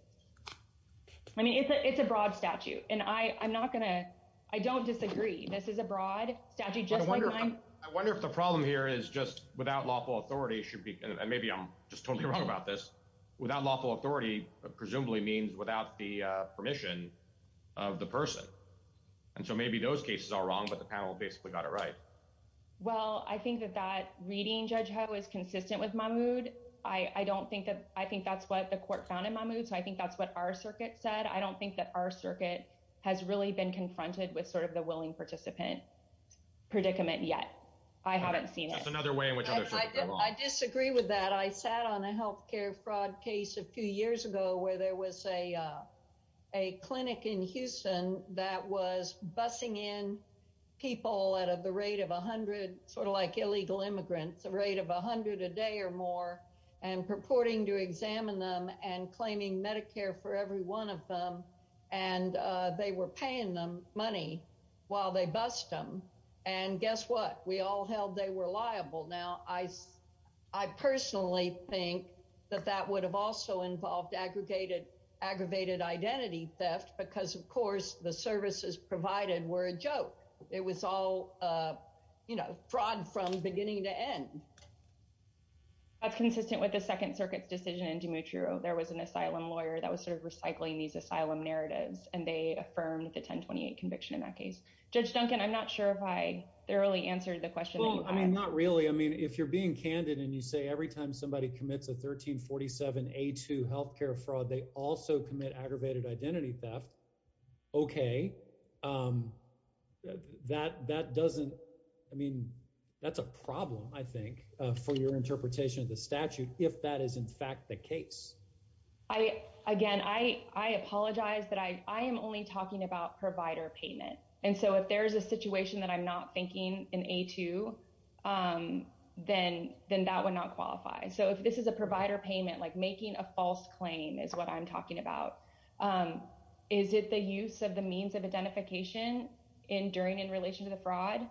i mean it's a broad statute and i i'm not gonna i don't disagree this is a broad statute i wonder i wonder if the problem here is just without lawful authority should be and maybe i'm just totally wrong about this without lawful authority presumably means without the uh permission of the person and so maybe those cases are wrong but the panel basically got it right well i think that that reading judge ho is consistent with my mood i i don't think that i think that's what the court found in my mood so i think that's what our circuit said i don't think that our circuit has really been confronted with sort of the willing participant predicament yet i haven't seen it another way in which i disagree with that i sat on a health care fraud case a few years ago where there was a uh a clinic in houston that was busing in people at the rate of a hundred sort of like illegal immigrants a rate of a hundred a day or more and purporting to examine them and claiming medicare for every one of them and uh they were paying them money while they bused them and guess what we all held they were liable now i i personally think that that would have also involved aggregated aggravated identity theft because of course the services provided were a joke it was all uh you know fraud from beginning to end that's consistent with the second circuit's decision in dimitri there was an asylum lawyer that was sort of recycling these asylum narratives and they affirmed the 1028 conviction in that case judge duncan i'm not sure if i thoroughly answered the question i mean not really i mean if you're a 1347 a2 health care fraud they also commit aggravated identity theft okay um that that doesn't i mean that's a problem i think for your interpretation of the statute if that is in fact the case i again i i apologize that i i am only talking about provider payment and so if there's a situation that i'm not thinking in a2 um then then that would not qualify so if this is a provider payment like making a false claim is what i'm talking about um is it the use of the means of identification in during in relation to the fraud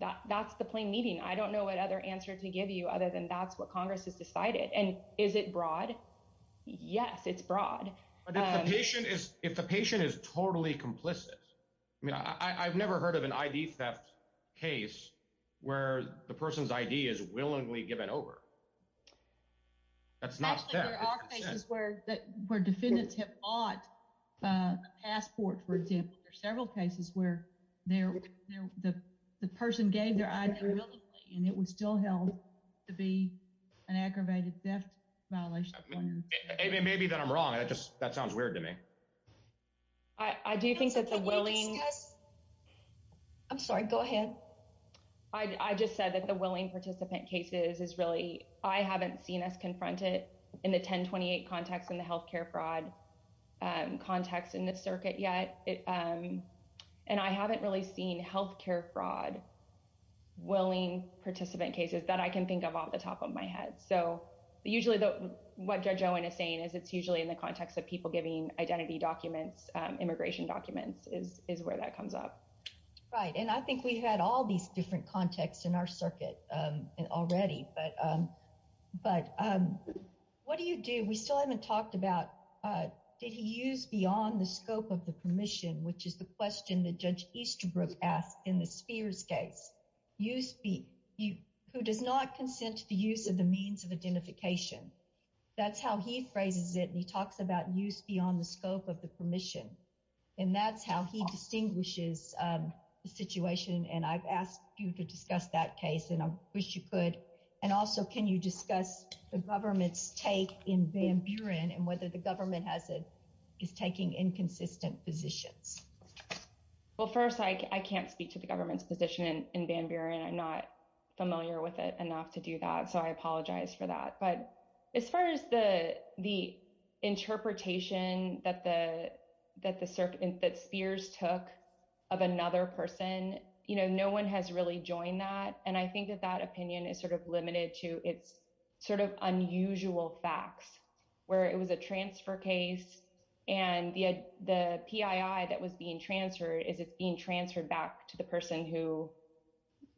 that that's the plain meaning i don't know what other answer to give you other than that's what congress has decided and is it broad yes it's broad but if the patient is if the patient is totally complicit i mean i i've never heard of an id theft case where the person's id is willingly given over that's not actually there are cases where that where defendants have bought a passport for example there are several cases where they're the the person gave their identity and it was still held to be an aggravated theft violation maybe that i'm wrong that just that sounds weird to me i i do think that the willing i'm sorry go ahead i i just said that the willing participant cases is really i haven't seen us confronted in the 1028 context in the health care fraud um context in this circuit yet it um and i haven't really seen health care fraud willing participant cases that i can think of off the top of my head so usually the what judge owen is saying is it's usually in the context of people giving identity documents um immigration documents is is where that comes up right and i think we had all these different contexts in our circuit um and already but um but um what do you do we still haven't talked about uh did he use on the scope of the permission which is the question that judge Easterbrook asked in the Spears case you speak you who does not consent to the use of the means of identification that's how he phrases it he talks about use beyond the scope of the permission and that's how he distinguishes um the situation and i've asked you to discuss that case and i wish you could and also can you discuss the government's take in Van Buren and whether the government has a is taking inconsistent positions well first i can't speak to the government's position in Van Buren i'm not familiar with it enough to do that so i apologize for that but as far as the the interpretation that the that the serpent that Spears took of another person you know no one has really joined that and i think that that opinion is sort of limited to it's sort of and the the PII that was being transferred is it's being transferred back to the person who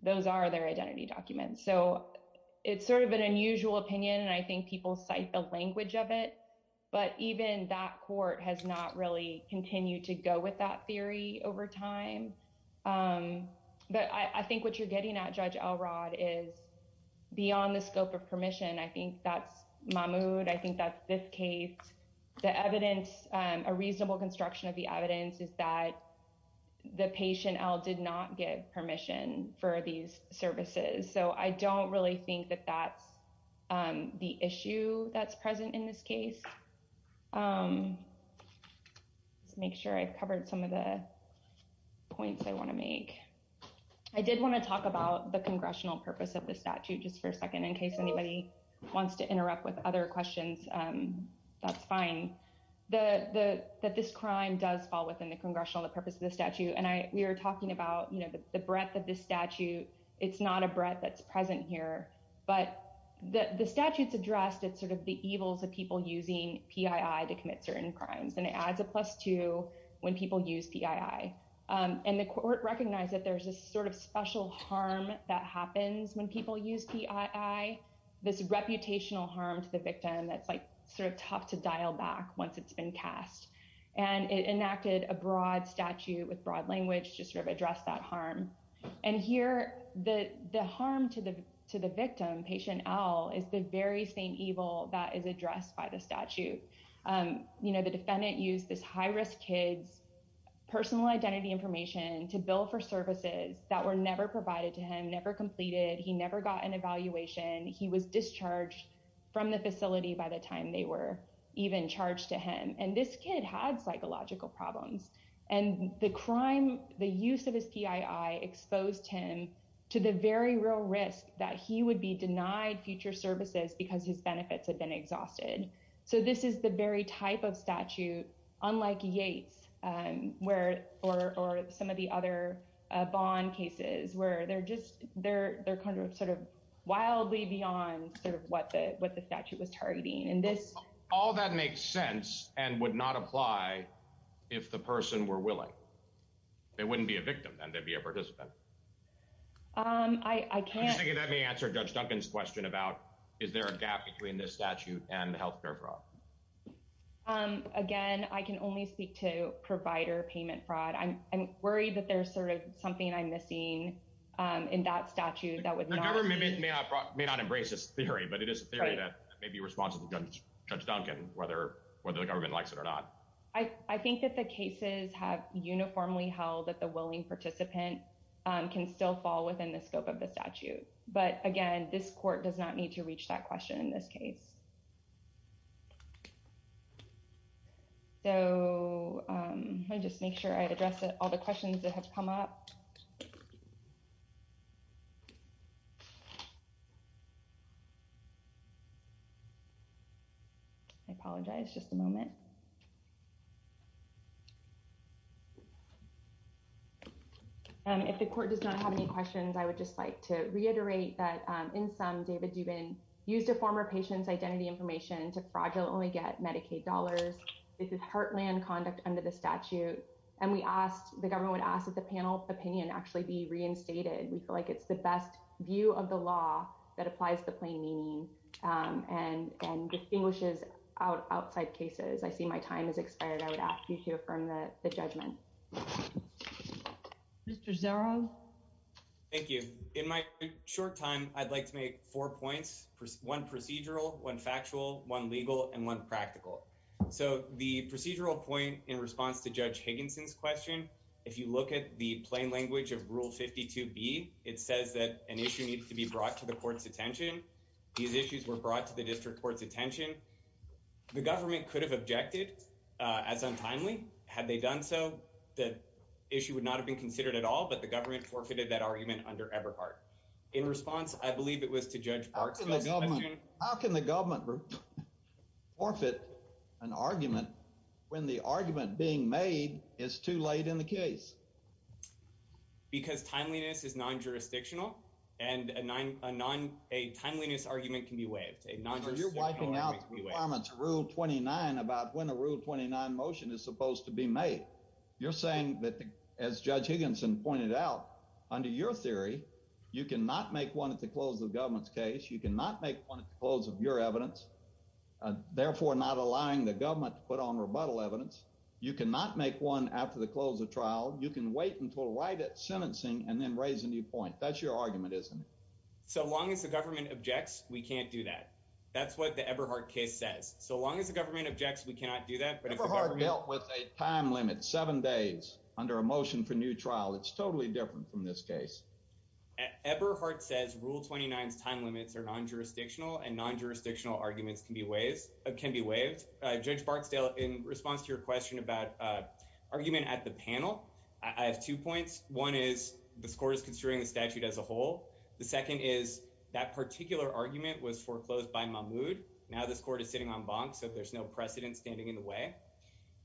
those are their identity documents so it's sort of an unusual opinion and i think people cite the language of it but even that court has not really continued to go with that theory over time um but i i think what you're getting at judge Elrod is beyond the scope of permission i think that's i think that's fifth case the evidence um a reasonable construction of the evidence is that the patient l did not give permission for these services so i don't really think that that's um the issue that's present in this case um let's make sure i've covered some of the points i want to make i did want to talk about the congressional purpose of the statute just for a second in case anybody wants to interrupt with other questions um that's fine the the that this crime does fall within the congressional the purpose of the statute and i we were talking about you know the breadth of this statute it's not a breath that's present here but the the statutes addressed it's sort of the evils of people using PII to commit certain crimes and it adds a plus two when people use PII um and the court recognized that there's a sort of special harm that happens when people use PII this reputational harm to the victim that's like sort of tough to dial back once it's been cast and it enacted a broad statute with broad language to sort of address that harm and here the the harm to the to the victim patient l is the very same evil that is addressed by the statute um you know the defendant used this high-risk kids personal identity information to bill for services that were never provided to him never completed he never got an evaluation he was discharged from the facility by the time they were even charged to him and this kid had psychological problems and the crime the use of his PII exposed him to the very real risk that he would be denied future services because his benefits had been exhausted so this is the very type of statute unlike yates um where or or some of the other bond cases where they're just they're they're kind of sort of wildly beyond sort of what the what the statute was targeting and this all that makes sense and would not apply if the person were willing they wouldn't be a victim and they'd be a participant um i i can't let me answer judge duncan's question about is there a um again i can only speak to provider payment fraud i'm i'm worried that there's sort of something i'm missing um in that statute that would the government may not may not embrace this theory but it is a theory that may be responsible judge duncan whether whether the government likes it or not i i think that the cases have uniformly held that the willing participant um can still fall within the scope of the statute but again this court does not need to reach that question in this case so um i just make sure i address all the questions that have come up i apologize just a moment and if the court does not have any questions i would just like to reiterate that in some david dubin used a former patient's identity information to fraudulently get medicaid dollars this is heartland conduct under the statute and we asked the government would ask that the panel opinion actually be reinstated we feel like it's the best view of the law that applies to plain meaning um and and distinguishes out outside cases i see my time has expired i like to make four points one procedural one factual one legal and one practical so the procedural point in response to judge higginson's question if you look at the plain language of rule 52b it says that an issue needs to be brought to the court's attention these issues were brought to the district court's attention the government could have objected uh as untimely had they done so the issue would not have been considered at all but the government forfeited that argument under eberhardt in response i believe it was to judge park how can the government forfeit an argument when the argument being made is too late in the case because timeliness is non-jurisdictional and a nine a non a timeliness argument can be waived a non-jurisdiction requirements rule 29 about when a rule 29 motion is supposed to be made you're saying that as judge higginson pointed out under your theory you cannot make one at the close of government's case you cannot make one at the close of your evidence therefore not allowing the government to put on rebuttal evidence you cannot make one after the close of trial you can wait until right at sentencing and then raise a new point that's your argument isn't it so long as the government objects we can't do that that's what the eberhardt case says so long as the time limit seven days under a motion for new trial it's totally different from this case eberhardt says rule 29's time limits are non-jurisdictional and non-jurisdictional arguments can be waived uh can be waived uh judge barksdale in response to your question about uh argument at the panel i have two points one is the score is considering the statute as a whole the second is that particular argument was foreclosed by mamoud now the court is sitting so there's no precedent standing in the way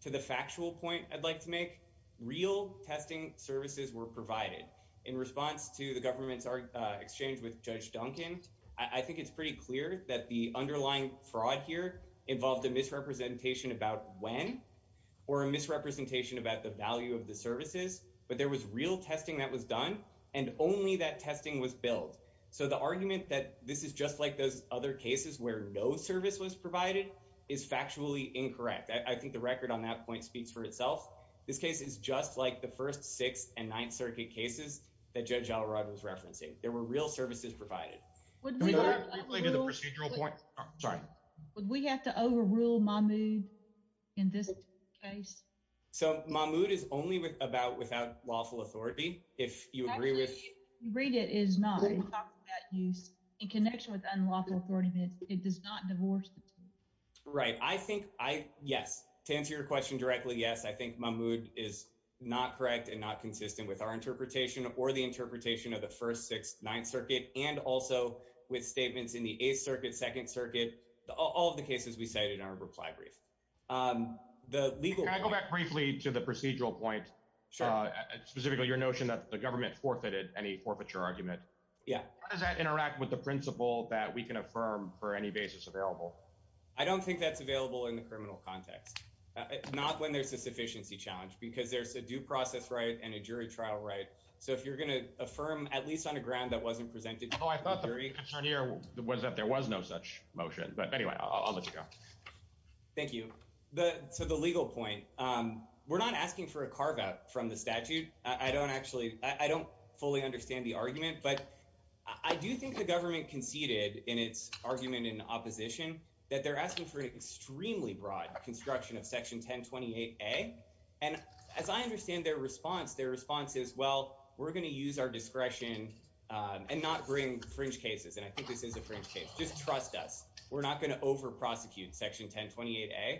to the factual point i'd like to make real testing services were provided in response to the government's exchange with judge duncan i think it's pretty clear that the underlying fraud here involved a misrepresentation about when or a misrepresentation about the value of the services but there was real testing that was done and only that testing was billed so the argument that this is just like those other cases where no service was provided is factually incorrect i think the record on that point speaks for itself this case is just like the first sixth and ninth circuit cases that judge al-arad was referencing there were real services provided to the procedural point sorry would we have to overrule my mood in this case so my mood is only about without lawful authority if you agree with you read it is not talking about use in connection with unlawful authorities it does not divorce the right i think i yes to answer your question directly yes i think my mood is not correct and not consistent with our interpretation or the interpretation of the first sixth ninth circuit and also with statements in the eighth circuit second circuit all of the cases we cited in our reply brief um the legal can i go back briefly to the procedural point sure specifically your notion that the government forfeited any forfeiture argument yeah does that interact with the principle that we can affirm for any basis available i don't think that's available in the criminal context it's not when there's a sufficiency challenge because there's a due process right and a jury trial right so if you're going to affirm at least on a ground that wasn't presented oh i thought the concern here was that there was no such motion but anyway i'll let you go thank you the to the legal point um we're not asking for a carve out from the statute i don't actually i don't fully understand the argument but i do think the government conceded in its argument in opposition that they're asking for an extremely broad construction of section 1028a and as i understand their response their response is well we're going to use our discretion um and not bring fringe cases and i think this is a fringe case just trust us we're not going to over prosecute section 1028a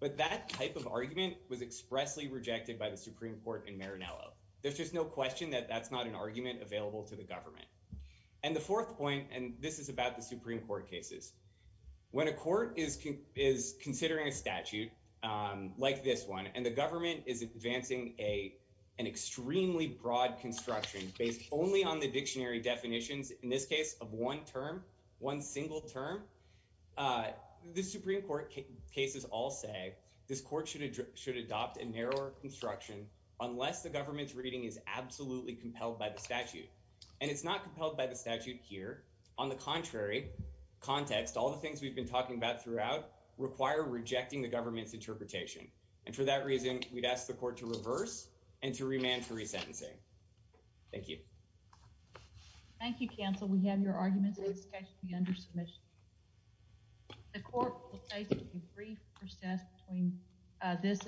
but that type of argument was expressly rejected by the supreme court in marinello there's just no question that that's not an argument available to the government and the fourth point and this is about the supreme court cases when a court is is considering a statute um like this one and the government is advancing a an extremely broad construction based only on the dictionary definitions in this case of one term one single term uh the supreme court cases all say this court should should adopt a narrower construction unless the government's reading is absolutely compelled by the statute and it's not compelled by the statute here on the contrary context all the things we've been talking about throughout require rejecting the government's interpretation and for that reason we'd ask the court to reverse and to remand for thank you counsel we have your arguments under submission the court will take a brief process between uh this